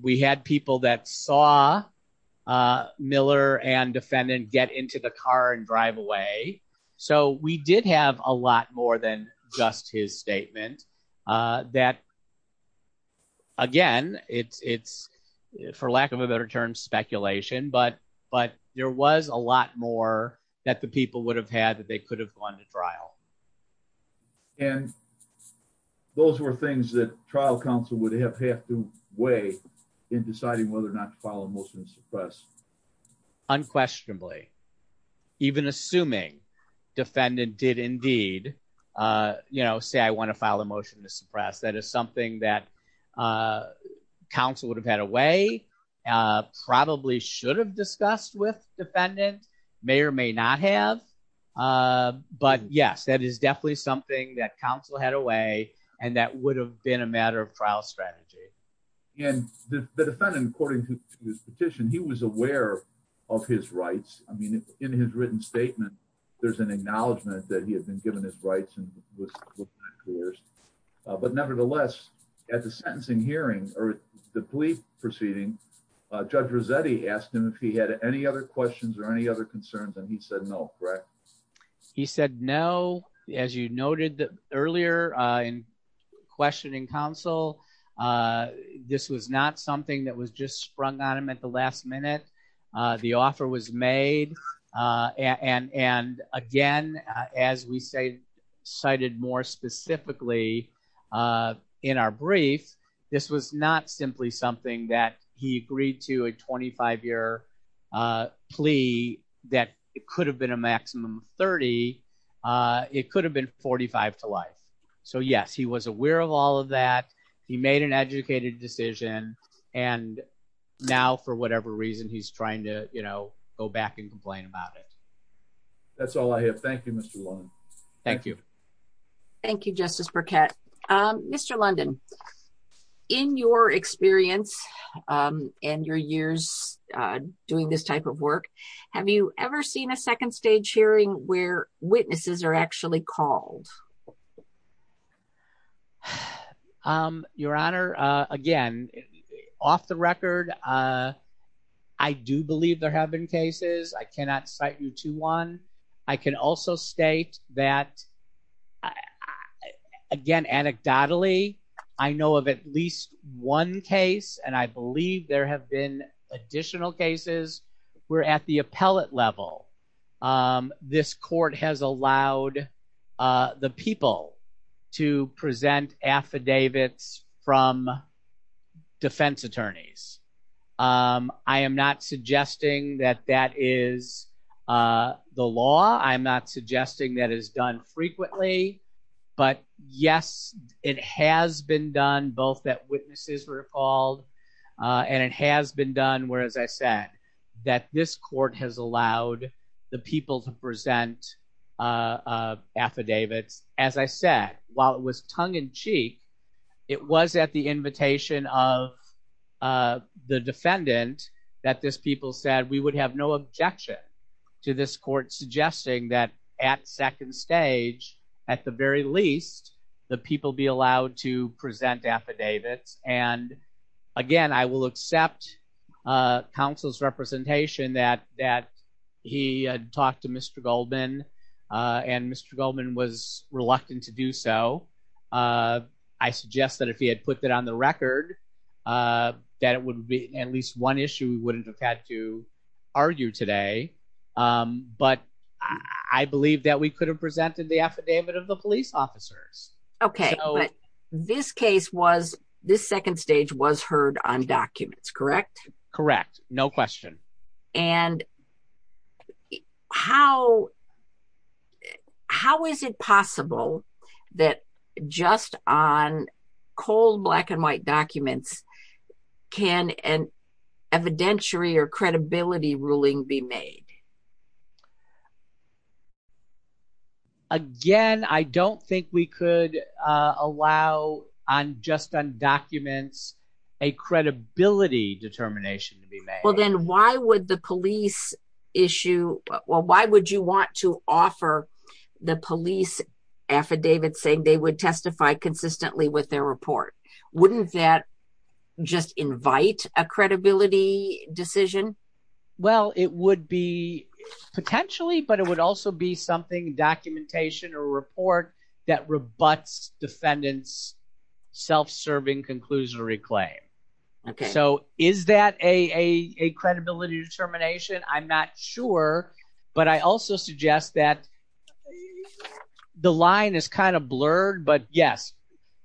We had people that saw Miller and defendant get into the car and drive away. So we did have a lot more than just his statement that, again, for lack of a better term, speculation, but there was a lot more that the people would have had that they could have gone to trial. And those were things that trial counsel would have had to weigh in deciding whether or not to file a motion to suppress. Unquestionably, even assuming defendant did indeed say, I want to file a motion to suppress, that is something that counsel would have had a way, probably should have discussed with defendant, may or may not have. But yes, that is definitely something that counsel had a way and that would have been a matter of trial strategy. And the defendant, according to his petition, he was aware of his rights. I mean, in his written statement, there's an acknowledgement that he had been given his rights. But nevertheless, at the sentencing hearing or the plea proceeding, Judge Rossetti asked him if he had any other questions or any other concerns and he said no, correct? He said no. As you noted earlier in questioning counsel, this was not something that was just sprung on him at the last minute. The offer was made. And again, as we say, cited more specifically in our brief, this was not simply something that he agreed to a 25-year plea that it could have been a maximum 30. It could have been 45 to life. So yes, he was aware of all of that. He made an educated decision and now for whatever reason, he's trying to go back and complain about it. That's all I have. Thank you, Mr. Warren. Thank you. Thank you, Justice Burkett. Mr. London, in your experience and your years doing this type of work, have you ever seen a second stage hearing where witnesses are actually called? Your Honor, again, off the record, I do believe there have been cases. I cannot cite you to one. I can also state that, again, anecdotally, I know of at least one case and I believe there have been additional cases where at the appellate level, this court has allowed the people to present affidavits from defense attorneys. I am not suggesting that that is the law. I'm not suggesting that is done frequently, but yes, it has been done both that witnesses were called and it has been done where, as I said, that this court has allowed the people to present affidavit. As I said, while it was tongue-in-cheek, it was at the invitation of the defendant that this people said we would have no objection to this court suggesting that at second stage, at the very least, the people be allowed to present affidavit. Again, I will accept counsel's representation that he had talked to Mr. Goldman and Mr. Goldman was reluctant to do so. I suggest that if he had put that on the record, that would be at least one issue we wouldn't have to argue today, but I believe that we could have presented the affidavit of the police officers. This case was, this second stage was heard on documents, correct? Correct. No question. And how is it possible that just on cold black and white documents can an evidentiary or credibility ruling be made? Again, I don't think we could allow on just on documents a credibility determination to be made. Then why would the police issue, why would you want to offer the police affidavit saying they would testify consistently with their report? Wouldn't that just invite a credibility decision? Well, it would be potentially, but it would also be something, documentation or report that rebuts defendant's self-serving conclusory claim. So is that a credibility determination? I'm not sure, but I also suggest that the line is kind of blurred, but yes,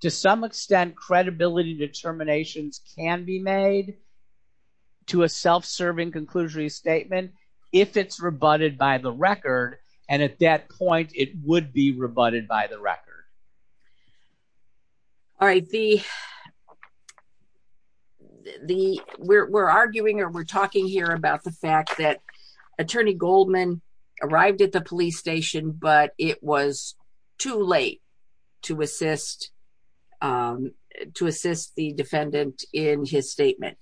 to some extent, credibility determinations can be made to a self-serving conclusory statement if it's rebutted by the record. And at that point, it would be rebutted by the record. All right. We're arguing or we're talking here about the fact that Attorney Goldman arrived at the police station, but it was too late to assist the defendant in his statement.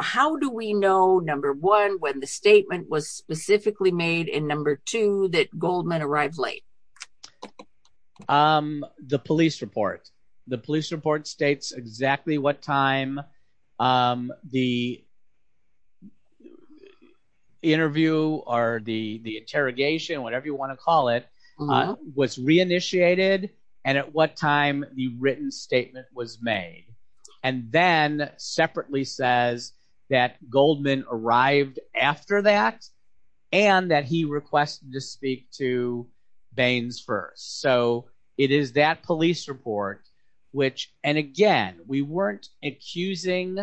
How do we know, number one, when the statement was specifically made and number two, that Goldman arrived late? The police report. The police report states exactly what time the interview or the interrogation, whatever you want to call it, was re-initiated and at what time the written statement was made. And then separately says that Goldman arrived after that and that he requested to speak to Baines first. So it is that police report, which, and again, we weren't accusing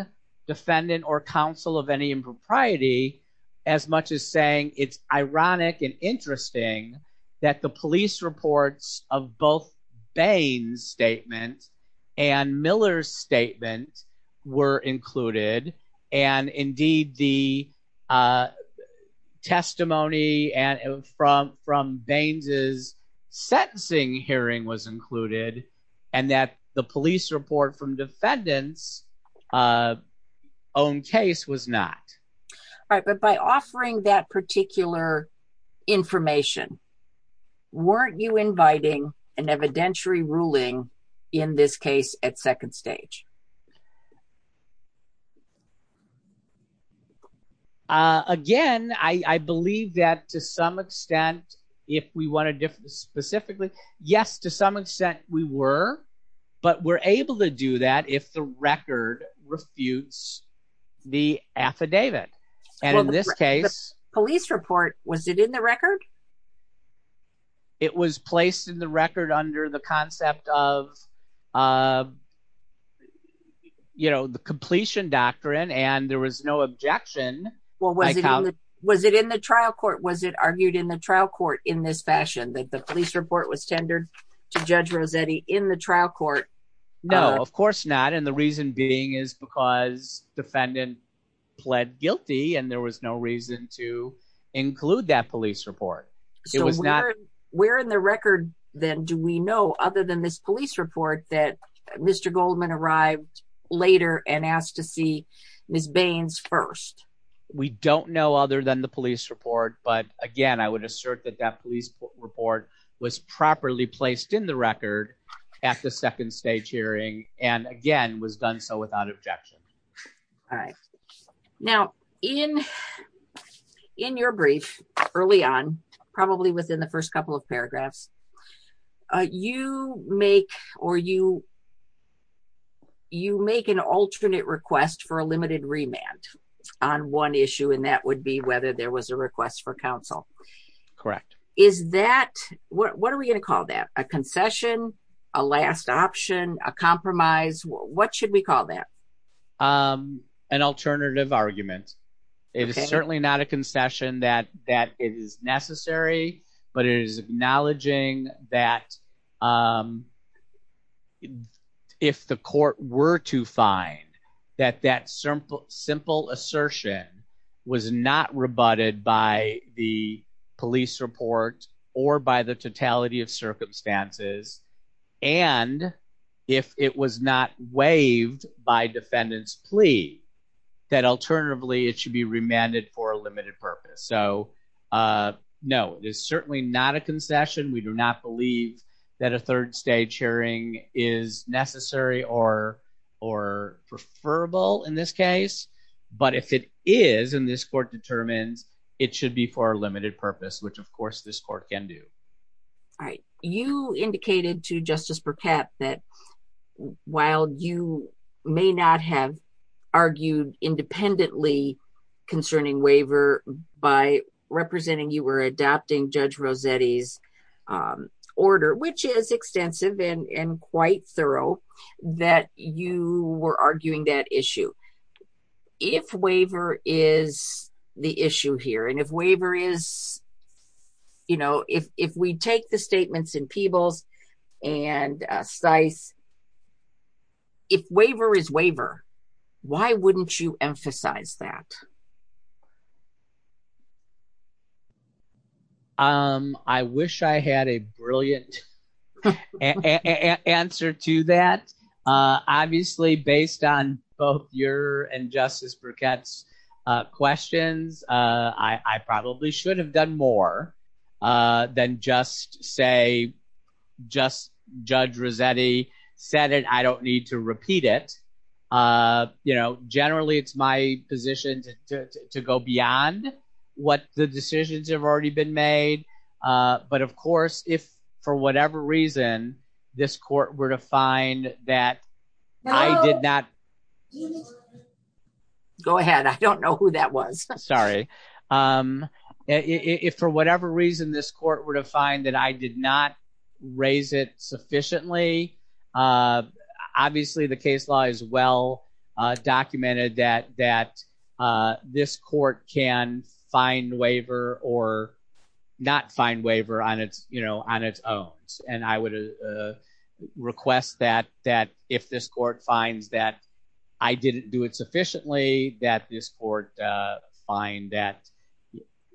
defendant or counsel of any impropriety as much as saying it's ironic and interesting that the police reports of both Baines' statement and Miller's statement were included and indeed the testimony from Baines' sentencing hearing was included and that the police report from defendant's own case was not. All right. But by offering that particular information, weren't you inviting an evidentiary ruling in this case at second stage? Again, I believe that to some extent, if we want to specifically, yes, to some extent we were, but we're able to do that if the record refutes the affidavit. And in this case, police report, was it in the record? It was placed in the record under the concept of, you know, the completion doctrine and there was no objection. Was it in the trial court? Was it argued in the trial court in this fashion that the police report was centered to judge Rossetti in the trial court? No, of course not. And the reason being is because defendant pled guilty and there was no reason to include that police report. Where in the record then do we know other than this police report that Mr. Goldman arrived later and asked to see Ms. Baines first? We don't know other than the police report, but again, I would assert that that police report was properly placed in the record at the second stage hearing and again, was done so without objection. All right. Now, in your brief early on, probably within the first couple of paragraphs, you make an alternate request for a limited remand on one issue and that would be whether there was a request for counsel. Correct. Is that, what are we going to call that? A concession? A last option? A compromise? What should we call that? An alternative argument. It is certainly not a concession that is necessary, but it is acknowledging that if the court were to find that that simple assertion was not rebutted by the police report or by the totality of circumstances and if it was not waived by defendant's plea, that alternatively it should be remanded for a limited purpose. So no, it is certainly not a concession. We do not believe that a third stage hearing is necessary or preferable in this case, but if it is and this court determined, it should be for a limited purpose, which of course this court can do. All right. You indicated to Justice Burkett that while you may not have argued independently concerning waiver, by representing you were adapting Judge Rossetti's which is extensive and quite thorough, that you were arguing that issue. If waiver is the issue here and if waiver is, you know, if we take the statements in Peebles and Stice, if waiver is waiver, why wouldn't you emphasize that? Um, I wish I had a brilliant answer to that. Obviously, based on both your and Justice Burkett's questions, I probably should have done more than just say, just Judge Rossetti said it, I don't need to repeat it. You know, generally, it's my position to go beyond what the decisions have already been made. But of course, if for whatever reason, this court were to find that I did not... Go ahead. I don't know who that was. Sorry. If for whatever reason, this court were to find that I did not raise it sufficiently, obviously, the case law is well documented that this court can find waiver or not find waiver on its own. And I would request that if this court finds that I didn't do it sufficiently, that this court find that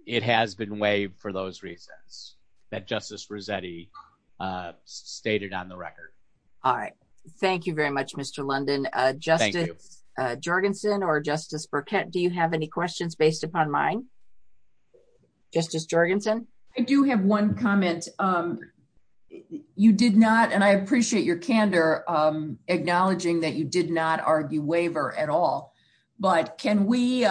it has been waived for those reasons that Justice Rossetti has stated on the record. All right. Thank you very much, Mr. London. Thank you. Justice Jorgensen or Justice Burkett, do you have any questions based upon mine? Justice Jorgensen? I do have one comment. You did not, and I appreciate your candor, acknowledging that you did not argue waiver at all, but can we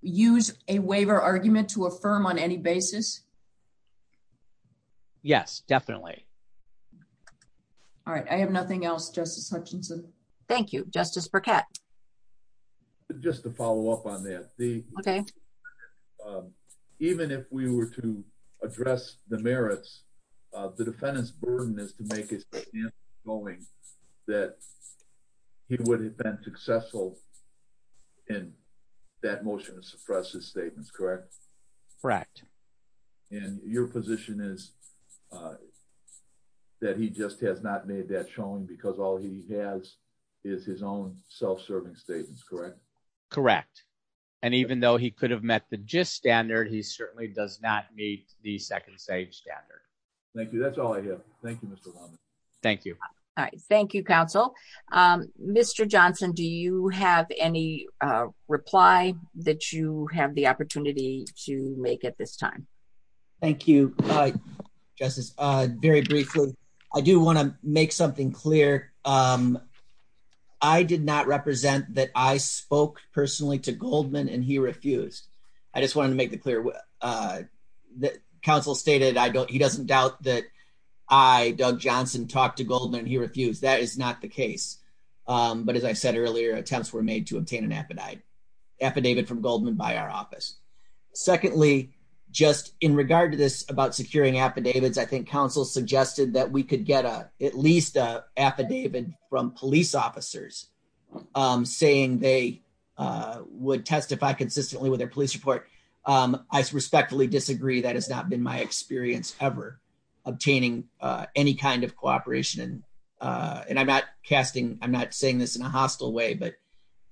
use a waiver argument to affirm on any basis? Yes, definitely. All right. I have nothing else, Justice Jorgensen. Thank you. Justice Burkett? Just to follow up on that. Okay. Even if we were to address the merits, the defendant's burden is to make his statement going that he would have been successful in that motion to suppress his statements, correct? Correct. And your position is that he just has not made that showing because all he has is his own self-serving statements, correct? Correct. And even though he could have met the gist standard, he certainly does not meet the second stage standard. Thank you. That's all I have. Thank you, Mr. London. Thank you. All right. Thank you, counsel. Mr. Johnson, do you have any reply that you have the opportunity to make at this time? Thank you, Justice. Very briefly, I do want to make something clear. I did not represent that I spoke personally to Goldman and he refused. I just wanted to make it clear that counsel stated he doesn't doubt that I, Doug Johnson, talked to Goldman and he refused. That is not the case. But as I said earlier, attempts were made to obtain an affidavit from Goldman by our office. Secondly, just in regard to this about securing affidavits, I think counsel suggested that we could get at least an affidavit from police officers saying they would testify consistently with their police report. I respectfully disagree. That has not been my experience ever obtaining any kind of cooperation. And I'm not casting, I'm not saying this in a hostile way, but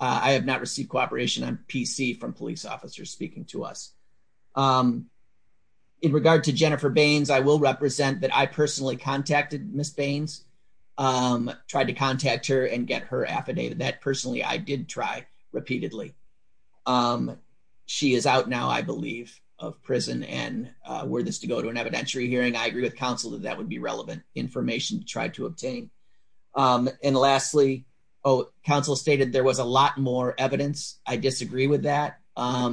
I have not received cooperation on PC from police officers speaking to us. In regard to Jennifer Baines, I will represent that I personally contacted Ms. Baines, tried to contact her and get her affidavit. That personally I did try repeatedly. She is out now, I believe, of prison and were this to go to an evidentiary hearing, I agree with counsel that that would be relevant information to try to obtain. And lastly, counsel stated there was a lot more evidence. I disagree with that. I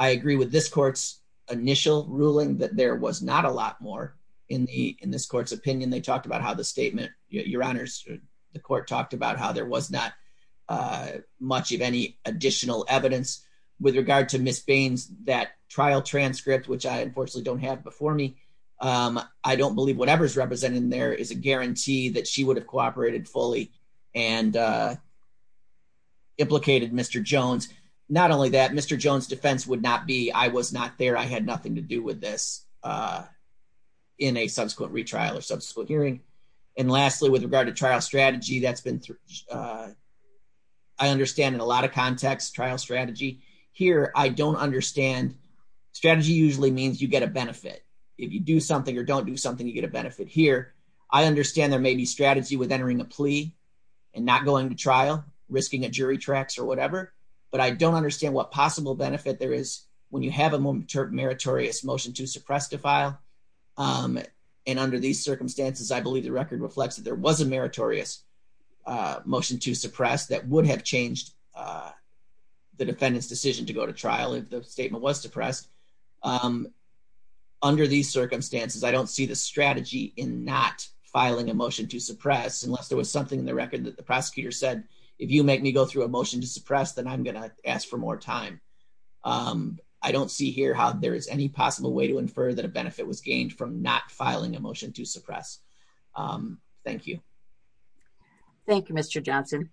agree with this court's initial ruling that there was not a lot more in this court's opinion. They talked about how the statement, your honors, the court talked about how there was not much of any additional evidence. With regard to Ms. Baines, that trial transcript, which I unfortunately don't have before me, I don't believe whatever is represented in there is a guarantee that she would have cooperated fully and implicated Mr. Jones. Not only that, Mr. Jones' defense would not be, I was not there, I had nothing to do with this in a subsequent retrial or subsequent hearing. And lastly, with regard to trial strategy, that's been, I understand in a lot of contexts, trial strategy. Here, I don't understand, strategy usually means you get a benefit. If you do something or don't do something, you get a benefit. Here, I understand there may be strategy with entering a plea and not going to trial, risking a jury tracts or whatever, but I don't understand what possible benefit there is when you have a more meritorious motion to suppress defile. And under these circumstances, I believe the record reflects that there was a meritorious motion to suppress that would have changed the defendant's decision to go to trial if the statement was suppressed. Under these circumstances, I don't see the strategy in not filing a motion to suppress unless there was something in the record that the prosecutor said, if you make me go through a motion to suppress, then I'm going to ask for more time. I don't see here how there is any possible way to infer that a benefit was gained from not filing a motion to suppress. Thank you. Thank you, Mr. Johnson.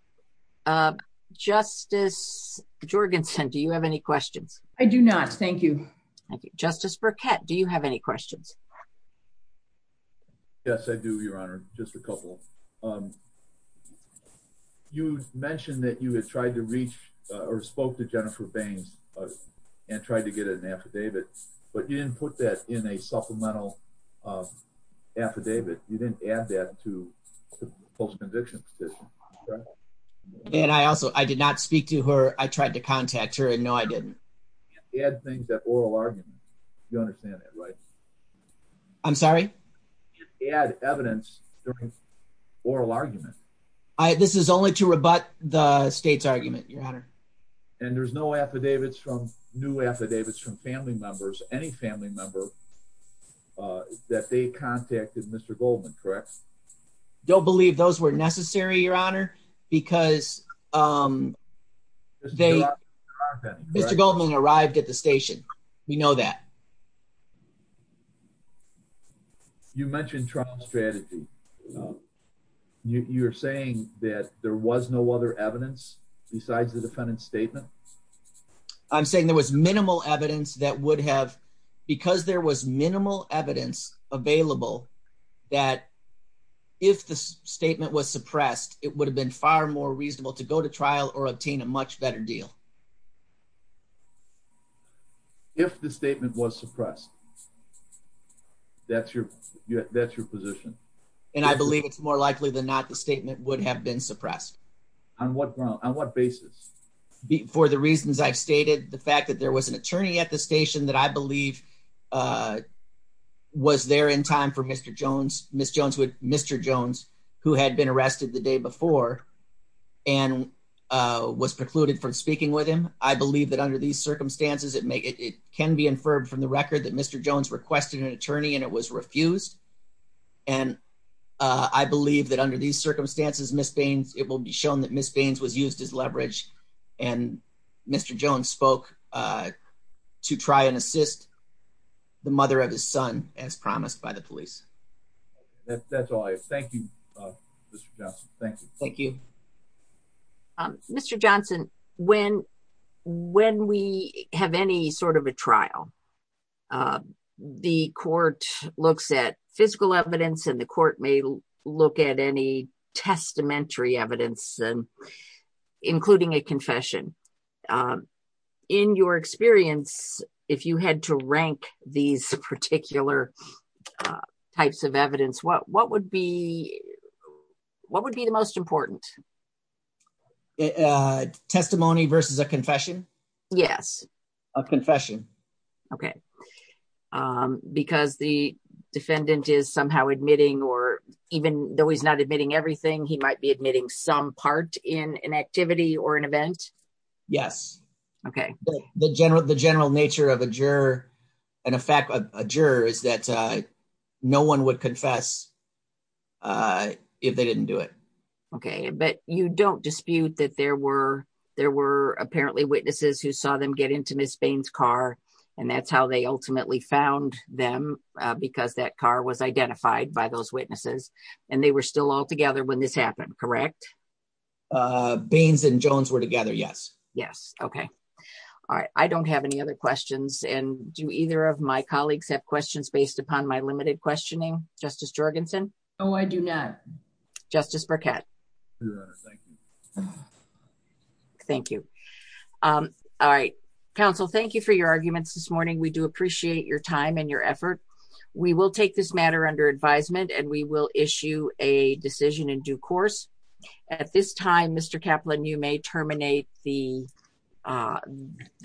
Justice Jorgensen, do you have any questions? I do not. Thank you. Thank you. Justice Burkett, do you have any questions? Yes, I do, Your Honor. Just a couple. You mentioned that you had tried to reach or spoke to Jennifer Baines and tried to get an affidavit, but you didn't put that in a supplemental affidavit. You didn't add that to the post-conviction petition. And I also, I did not speak to her. I tried to contact her and no, I didn't. You add things at oral arguments. You understand that, right? I'm sorry? You add evidence to oral arguments. This is only to rebut the state's argument, Your Honor. And there's no affidavits from, new affidavits from family members, any family member, that they contacted Mr. Goldman, correct? Don't believe those were necessary, Your Honor, because Mr. Goldman arrived at the station. We know that. Okay. You mentioned trial strategy. You're saying that there was no other evidence besides the defendant's statement? I'm saying there was minimal evidence that would have, because there was minimal evidence available, that if the statement was suppressed, it would have been far more reasonable to go to trial or obtain a much better deal. If the statement was suppressed, that's your, that's your position. And I believe it's more likely than not, the statement would have been suppressed. On what basis? For the reasons I've stated, the fact that there was an attorney at the station that I believe was there in time for Mr. Jones, Ms. Jones, Mr. Jones, who had been arrested the day before and was precluded from speaking with him. I believe that under these circumstances, it may, it can be inferred from the record that Mr. Jones requested an attorney and it was refused. And I believe that under these circumstances, Ms. Daines, it will be shown that Ms. Daines would use this leverage and Mr. Jones spoke to try and assist the mother of his son as promised by the police. That's all I have. Thank you, Mr. Johnson. Thank you. Thank you. Mr. Johnson, when, when we have any sort of a trial, the court looks at physical evidence and the court may look at any testamentary evidence, including a confession. In your experience, if you had to rank these particular types of evidence, what, what would be, what would be the most important? Testimony versus a confession? Yes. A confession. Okay. Because the defendant is somehow admitting or even though he's not admitting everything, he might be admitting some part in an activity or an no one would confess if they didn't do it. Okay. But you don't dispute that there were, there were apparently witnesses who saw them get into Ms. Daines' car and that's how they ultimately found them because that car was identified by those witnesses and they were still all together when this happened, correct? Daines and Jones were together, yes. Yes. Okay. All right. I don't have any other questions and do either of my colleagues have questions upon my limited questioning? Justice Jorgensen? Oh, I do not. Justice Burkett? No, thank you. Thank you. All right. Counsel, thank you for your arguments this morning. We do appreciate your time and your effort. We will take this matter under advisement and we will issue a decision in due course. At this time, Mr. Kaplan, you may terminate the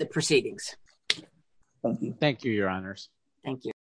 proceedings. Thank you, Your Honors. Thank you.